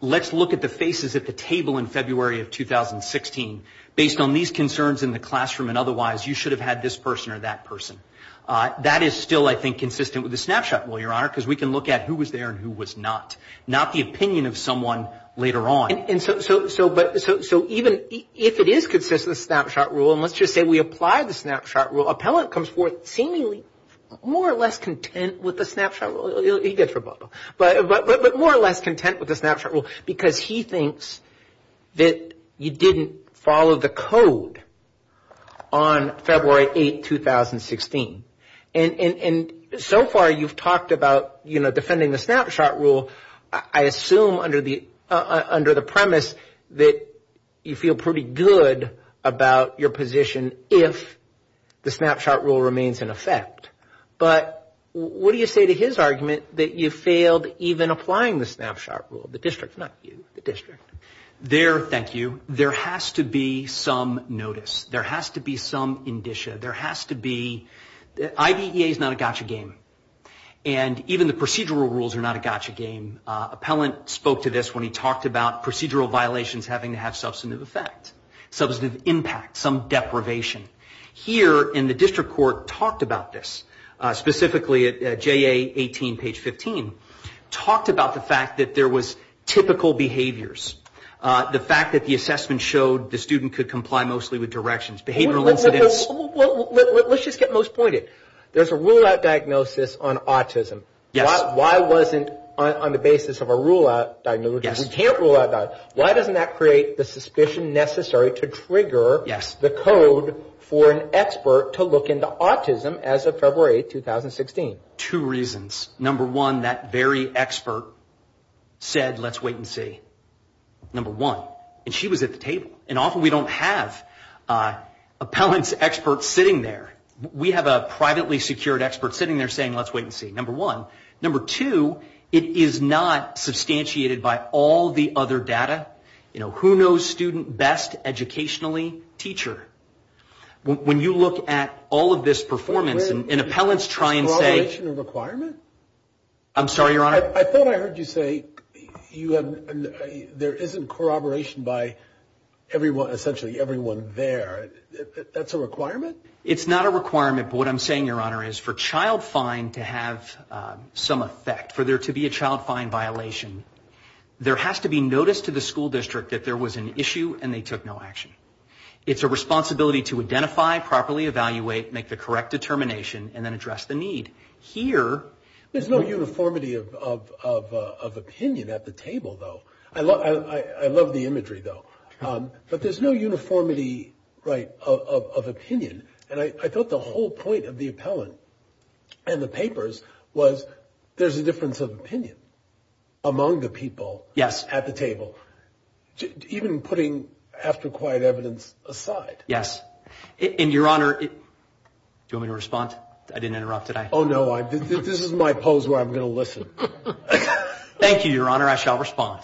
let's look at the faces at the table in February of 2016. Based on these concerns in the classroom and otherwise, you should have had this person or that person. That is still, I think, consistent with the snapshot. Well, Your Honor, because we can look at who was there and who was not, not the opinion of someone later on. And so even if it is consistent with the snapshot rule, and let's just say we apply the snapshot rule, appellant comes forth seemingly more or less content with the snapshot rule. But more or less content with the snapshot rule because he thinks that you didn't follow the code on February 8, 2016. And so far you've talked about, you know, defending the snapshot rule. I assume under the premise that you feel pretty good about your position if the snapshot rule remains in effect. But what do you say to his argument that you failed even applying the snapshot rule? The district, not you, the district. There, thank you, there has to be some notice. There has to be some indicia. There has to be, IDEA is not a gotcha game. And even the procedural rules are not a gotcha game. Appellant spoke to this when he talked about procedural violations having to have substantive effect, substantive impact, some deprivation. Here in the district court talked about this, specifically at JA 18, page 15, talked about the fact that there was typical behaviors. The fact that the assessment showed the student could comply mostly with directions, behavioral incidents. Well, let's just get most pointed. There's a rule out diagnosis on autism. Why wasn't on the basis of a rule out diagnosis, you can't rule out diagnosis. Why doesn't that create the suspicion necessary to trigger the code for an expert to look into autism as of February 2016? Two reasons. Number one, that very expert said let's wait and see. Number one. And she was at the table. And often we don't have appellants experts sitting there. We have a privately secured expert sitting there saying let's wait and see, number one. Number two, it is not substantiated by all the other data. Who knows student best educationally? Teacher. When you look at all of this performance and appellants try and say. I'm sorry, Your Honor. I thought I heard you say there isn't corroboration by everyone, essentially everyone there. That's a requirement? It's not a requirement, but what I'm saying, Your Honor, is for child fine to have some effect, for there to be a child fine violation, there has to be notice to the school district that there was an issue and they took no action. It's a responsibility to identify, properly evaluate, make the correct determination, and then address the need. Here. There's no uniformity of opinion at the table, though. I love the imagery, though. But there's no uniformity, right, of opinion. And I thought the whole point of the appellant and the papers was there's a difference of opinion among the people. Yes. At the table. Even putting after quiet evidence aside. Yes. And, Your Honor, do you want me to respond? I didn't interrupt, did I? Oh, no, this is my pose where I'm going to listen. Thank you, Your Honor, I shall respond.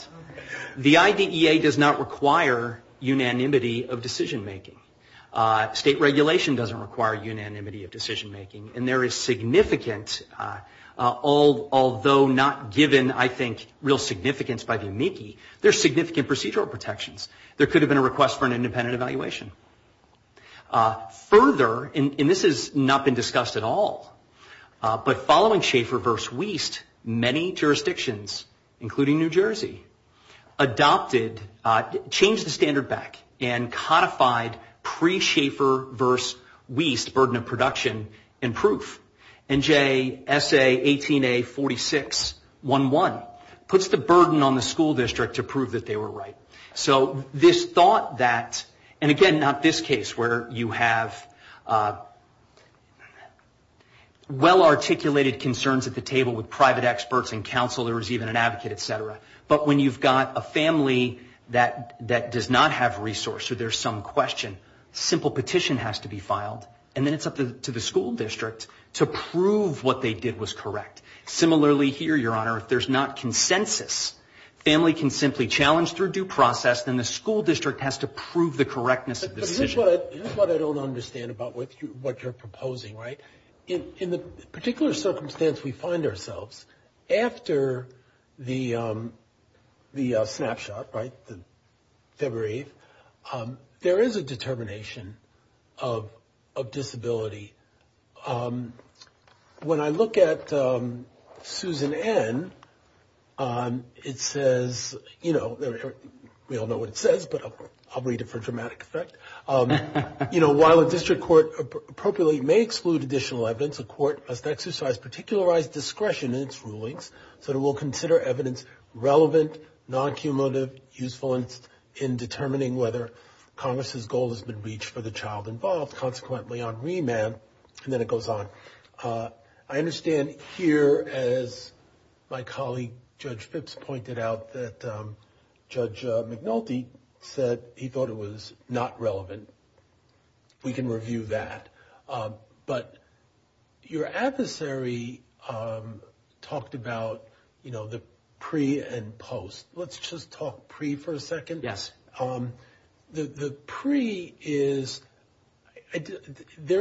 The IDEA does not require unanimity of decision-making. State regulation doesn't require unanimity of decision-making. And there is significant, although not given, I think, real significance by the amici, there's significant procedural protections. There could have been a request for an independent evaluation. Further, and this has not been discussed at all, but following Schaefer v. Wiest, many jurisdictions, including New Jersey, adopted, changed the standard back and codified pre-Schaefer v. Wiest burden of production and proof. And JSA 18A4611 puts the burden on the school district to prove that they were right. So this thought that, and again, not this case where you have well-articulated concerns at the table with private experts and counsel, there was even an advocate, et cetera. But when you've got a family that does not have resource or there's some question, simple petition has to be filed, and then it's up to the school district to prove what they did was correct. Similarly here, Your Honor, if there's not consensus, family can simply challenge through due process, then the school district has to prove the correctness of the decision. But here's what I don't understand about what you're proposing, right? In the particular circumstance we find ourselves, after the snapshot, right, February 8th, there is a determination of disability. When I look at Susan N., it says, you know, we all know what it says, but I'll read it for dramatic effect. You know, while a district court appropriately may exclude additional evidence, a court must exercise particularized discretion in its rulings so that it will consider evidence relevant, non-cumulative, useful in determining whether Congress's goal has been reached for the child involved. And then it goes on. I understand here, as my colleague Judge Phipps pointed out, that Judge McNulty said he thought it was not relevant. We can review that. But your adversary talked about, you know, the pre and post. Let's just talk pre for a second. There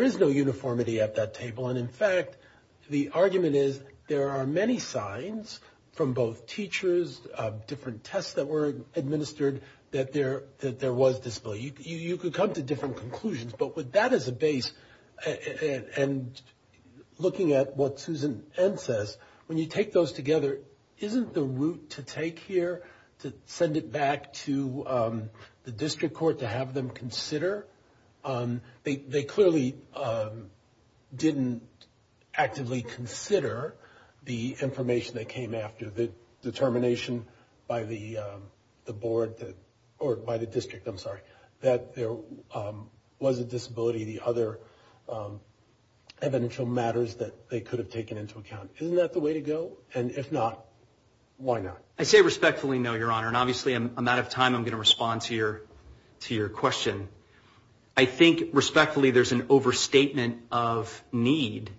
is no uniformity at that table, and in fact, the argument is there are many signs from both teachers, different tests that were administered, that there was disability. You could come to different conclusions, but with that as a base, and looking at what Susan N. says, when you take those together, isn't the route to take here to send it back to the district court to have them consider, they clearly didn't actively consider the information that came after, the determination by the board or by the district, I'm sorry, that there was a disability, the other evidential matters that they could have taken into account. Isn't that the way to go? And if not, why not? I say respectfully no, Your Honor, and obviously I'm out of time. I'm going to respond to your question. I think respectfully there's an overstatement of need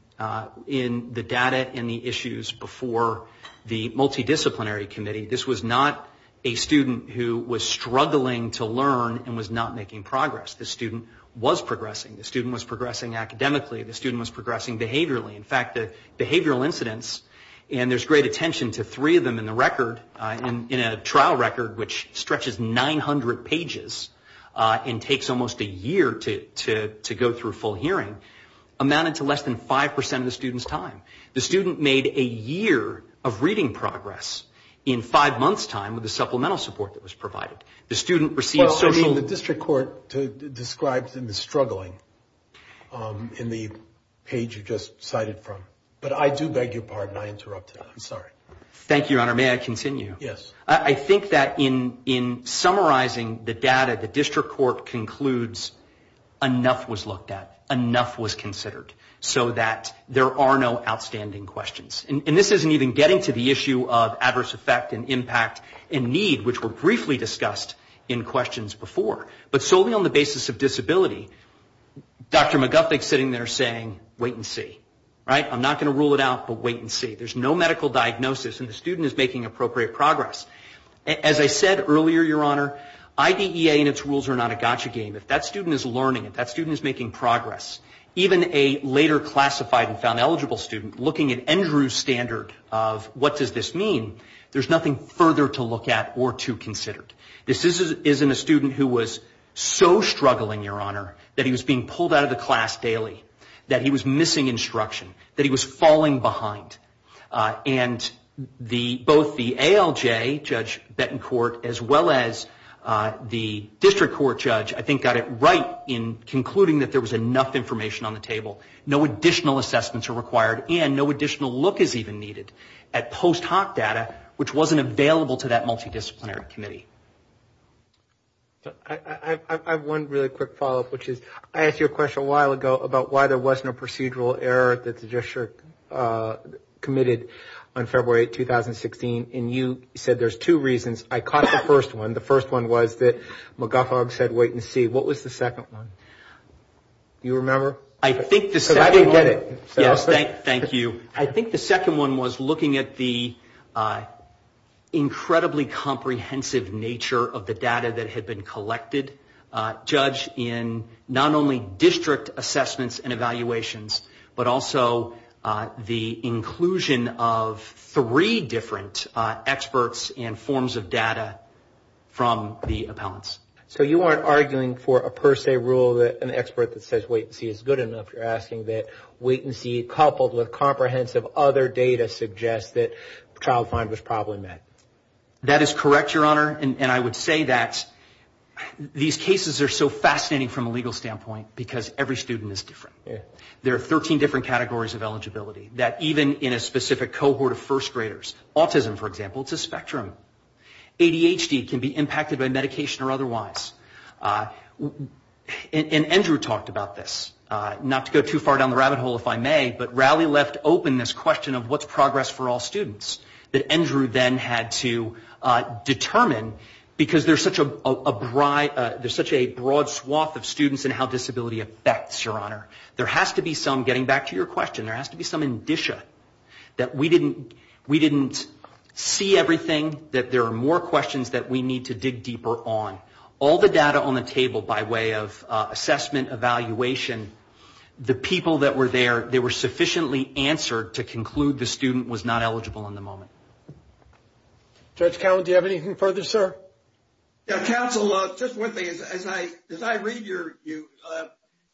in the data and the issues before the multidisciplinary committee. This was not a student who was struggling to learn and was not making progress. The student was progressing, the student was progressing academically, the student was progressing behaviorally. In fact, the behavioral incidents, and there's great attention to three of them in the record, in a trial record which stretches 900 pages and takes almost a year to go through full hearing, amounted to less than 5% of the student's time. The student made a year of reading progress in five months' time with the supplemental support that was provided. The student received social... Well, I mean, the district court describes in the struggling, in the page you just cited from. But I do beg your pardon, I interrupted, I'm sorry. Thank you, Your Honor, may I continue? Yes. I think that in summarizing the data, the district court concludes enough was looked at, enough was considered, so that there are no outstanding questions. And this isn't even getting to the issue of adverse effect and impact and need, which were briefly discussed in questions before. But solely on the basis of disability, Dr. McGuffin is sitting there saying, wait and see. Right? I'm not going to rule it out, but wait and see. There's no medical diagnosis, and the student is making appropriate progress. As I said earlier, Your Honor, IDEA and its rules are not a gotcha game. If that student is learning, if that student is making progress, even a later classified and found eligible student, looking at that student, that student is making progress. And both the ALJ, Judge Betancourt, as well as the district court judge, I think got it right in concluding that there was enough information on the table. No additional assessments are required, and no additional look is even needed at post hoc data, which wasn't available to that multidisciplinary committee. I have one really quick follow-up, which is I asked you a question a while ago about why there wasn't a procedural error that the district committed on February 8, 2016, and you said there's two reasons. I caught the first one. The first one was that McGuffin said wait and see. What was the second one? Do you remember? I think the second one was looking at the incredibly comprehensive nature of the data that had been collected. Judge, in not only district assessments and evaluations, but also the inclusion of three different experts and forms of data from the district, you're asking for a per se rule, an expert that says wait and see is good enough. You're asking that wait and see coupled with comprehensive other data suggests that the child find was probably met. That is correct, Your Honor, and I would say that these cases are so fascinating from a legal standpoint, because every student is different. There are 13 different categories of eligibility, that even in a specific cohort of first graders, autism, for example, it's a spectrum. And Andrew talked about this, not to go too far down the rabbit hole, if I may, but Rowley left open this question of what's progress for all students that Andrew then had to determine, because there's such a broad swath of students in how disability affects, Your Honor. There has to be some, getting back to your question, there has to be some indicia that we didn't see everything, that there are more And I would say that in my way of assessment, evaluation, the people that were there, they were sufficiently answered to conclude the student was not eligible in the moment. Judge Cowen, do you have anything further, sir? Counsel, just one thing, as I read your,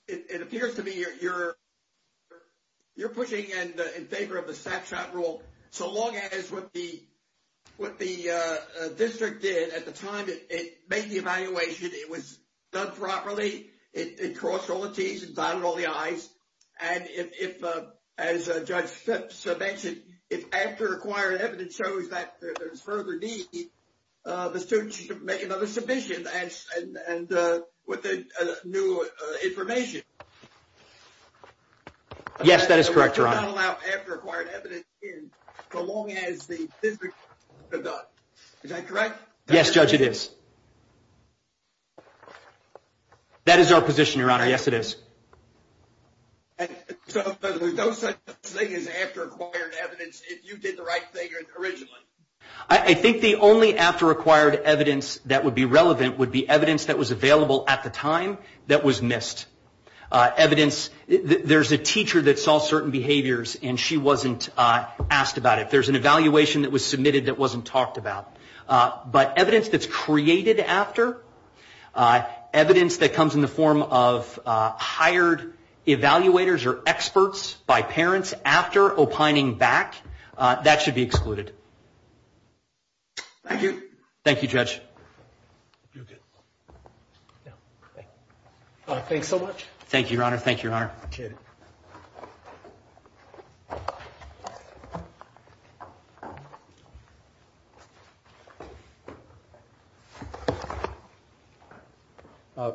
it appears to me you're pushing in favor of the snapshot rule, so long as what the district did at the time was done properly, it crossed all the T's and dotted all the I's, and if, as Judge Phipps mentioned, if after acquired evidence shows that there's further need, the student should make another submission, and with the new information. Yes, that is correct, Your Honor. And we cannot allow after acquired evidence in, so long as the district has done. Is that correct? Yes, Judge, it is. That is our position, Your Honor, yes it is. I think the only after acquired evidence that would be relevant would be evidence that was available at the time that was missed. Evidence, there's a teacher that saw certain behaviors and she wasn't asked about it. There's an evaluation that was submitted that wasn't talked about. But evidence that's created after, evidence that comes in the form of hired evaluators or experts by parents after opining back, that should be excluded. Thank you. Thank you, Judge. Thanks so much.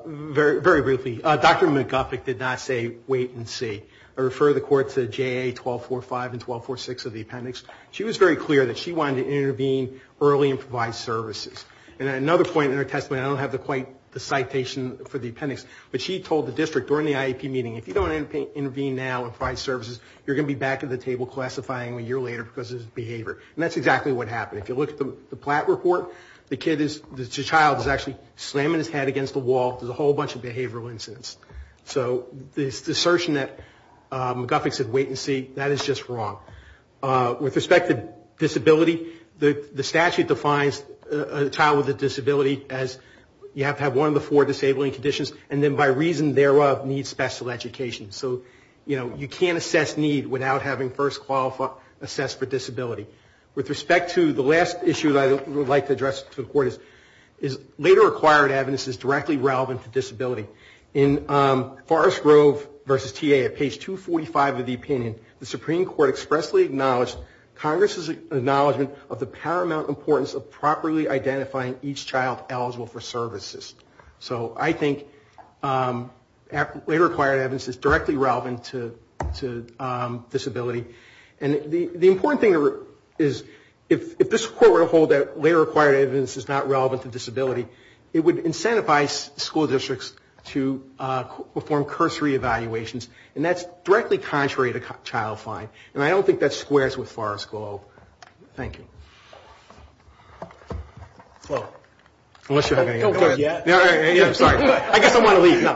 Very briefly, Dr. McGuffick did not say wait and see. I refer the Court to JA 1245 and 1246 of the appendix. She was very clear that she wanted to intervene early and provide services. And another point in her testimony, I don't have quite the citation for the appendix, but she told the district during the IEP meeting, if you don't intervene now and provide services, you're going to be back at the table classifying a year later because of this behavior. And that's exactly what happened. If you look at the Platt report, the child is actually slamming his head against the wall, there's a whole bunch of behavioral incidents. So this assertion that McGuffick said wait and see, that is just wrong. With respect to disability, the statute defines a child with a disability as you have to have one of the four disabling conditions, and then by reason thereof need special education. So, you know, you can't assess need without having first qualified assessed for disability. With respect to the last issue that I would like to address to the Court is later acquired evidence is directly relevant to disability. Forrest Grove v. TA at page 245 of the opinion, the Supreme Court expressly acknowledged Congress' acknowledgement of the paramount importance of properly identifying each child eligible for services. So I think later acquired evidence is directly relevant to disability. And the important thing is if this Court were to hold that later acquired evidence is not relevant to disability, it would incentivize school districts to perform cursory evaluations, and that's directly contrary to child fine. And I don't think that squares with Forrest Grove. Thank you. I guess I'm going to leave now.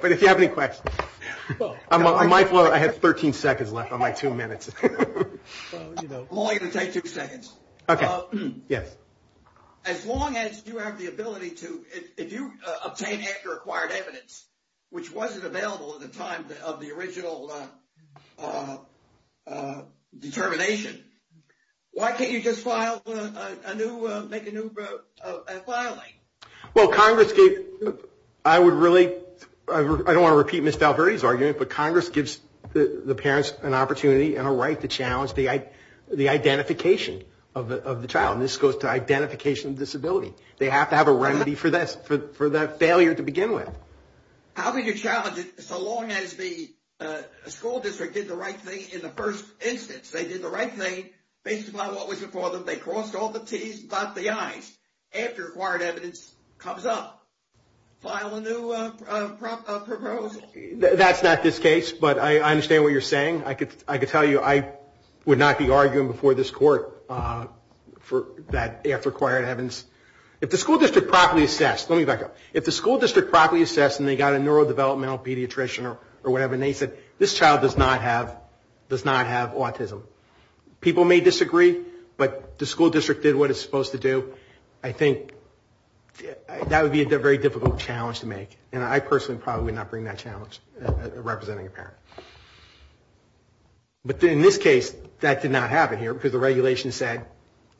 But if you have any questions. I have 13 seconds left on my two minutes. I'm only going to take two seconds. As long as you have the ability to, if you obtain later acquired evidence, which wasn't available at the time of the original determination, why can't you just make a new filing? Well, Congress gave, I would really, I don't want to repeat Ms. Valverde's argument, but Congress gives the parents an opportunity and a right to challenge the identification of the child. And this goes to identification of disability. They have to have a remedy for that failure to begin with. How can you challenge it so long as the school district did the right thing in the first instance? They did the right thing based upon what was before them. They crossed all the T's and blocked the I's after acquired evidence comes up. File a new proposal. That's not this case, but I understand what you're saying. I could tell you I would not be arguing before this court for that after acquired evidence. If the school district properly assessed and they got a neurodevelopmental pediatrician or whatever and they said this child does not have autism. People may disagree, but the school district did what it's supposed to do. I think that would be a very difficult challenge to make. And I personally probably would not bring that challenge representing a parent. But in this case, that did not happen here because the regulation said.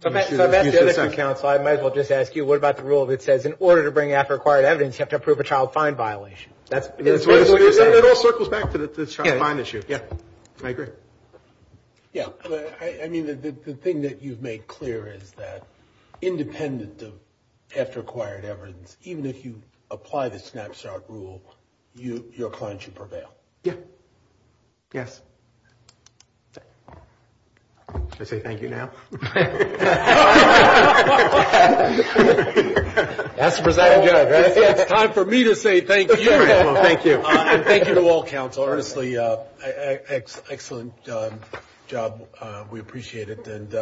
I might as well just ask you what about the rule that says in order to bring after acquired evidence, you have to approve a child fine violation. It all circles back to the child fine issue. The thing that you've made clear is that independent of after acquired evidence, even if you apply the snapshot rule, your client should prevail. Yes. Should I say thank you now? It's time for me to say thank you. Thank you to all counsel. We appreciate it.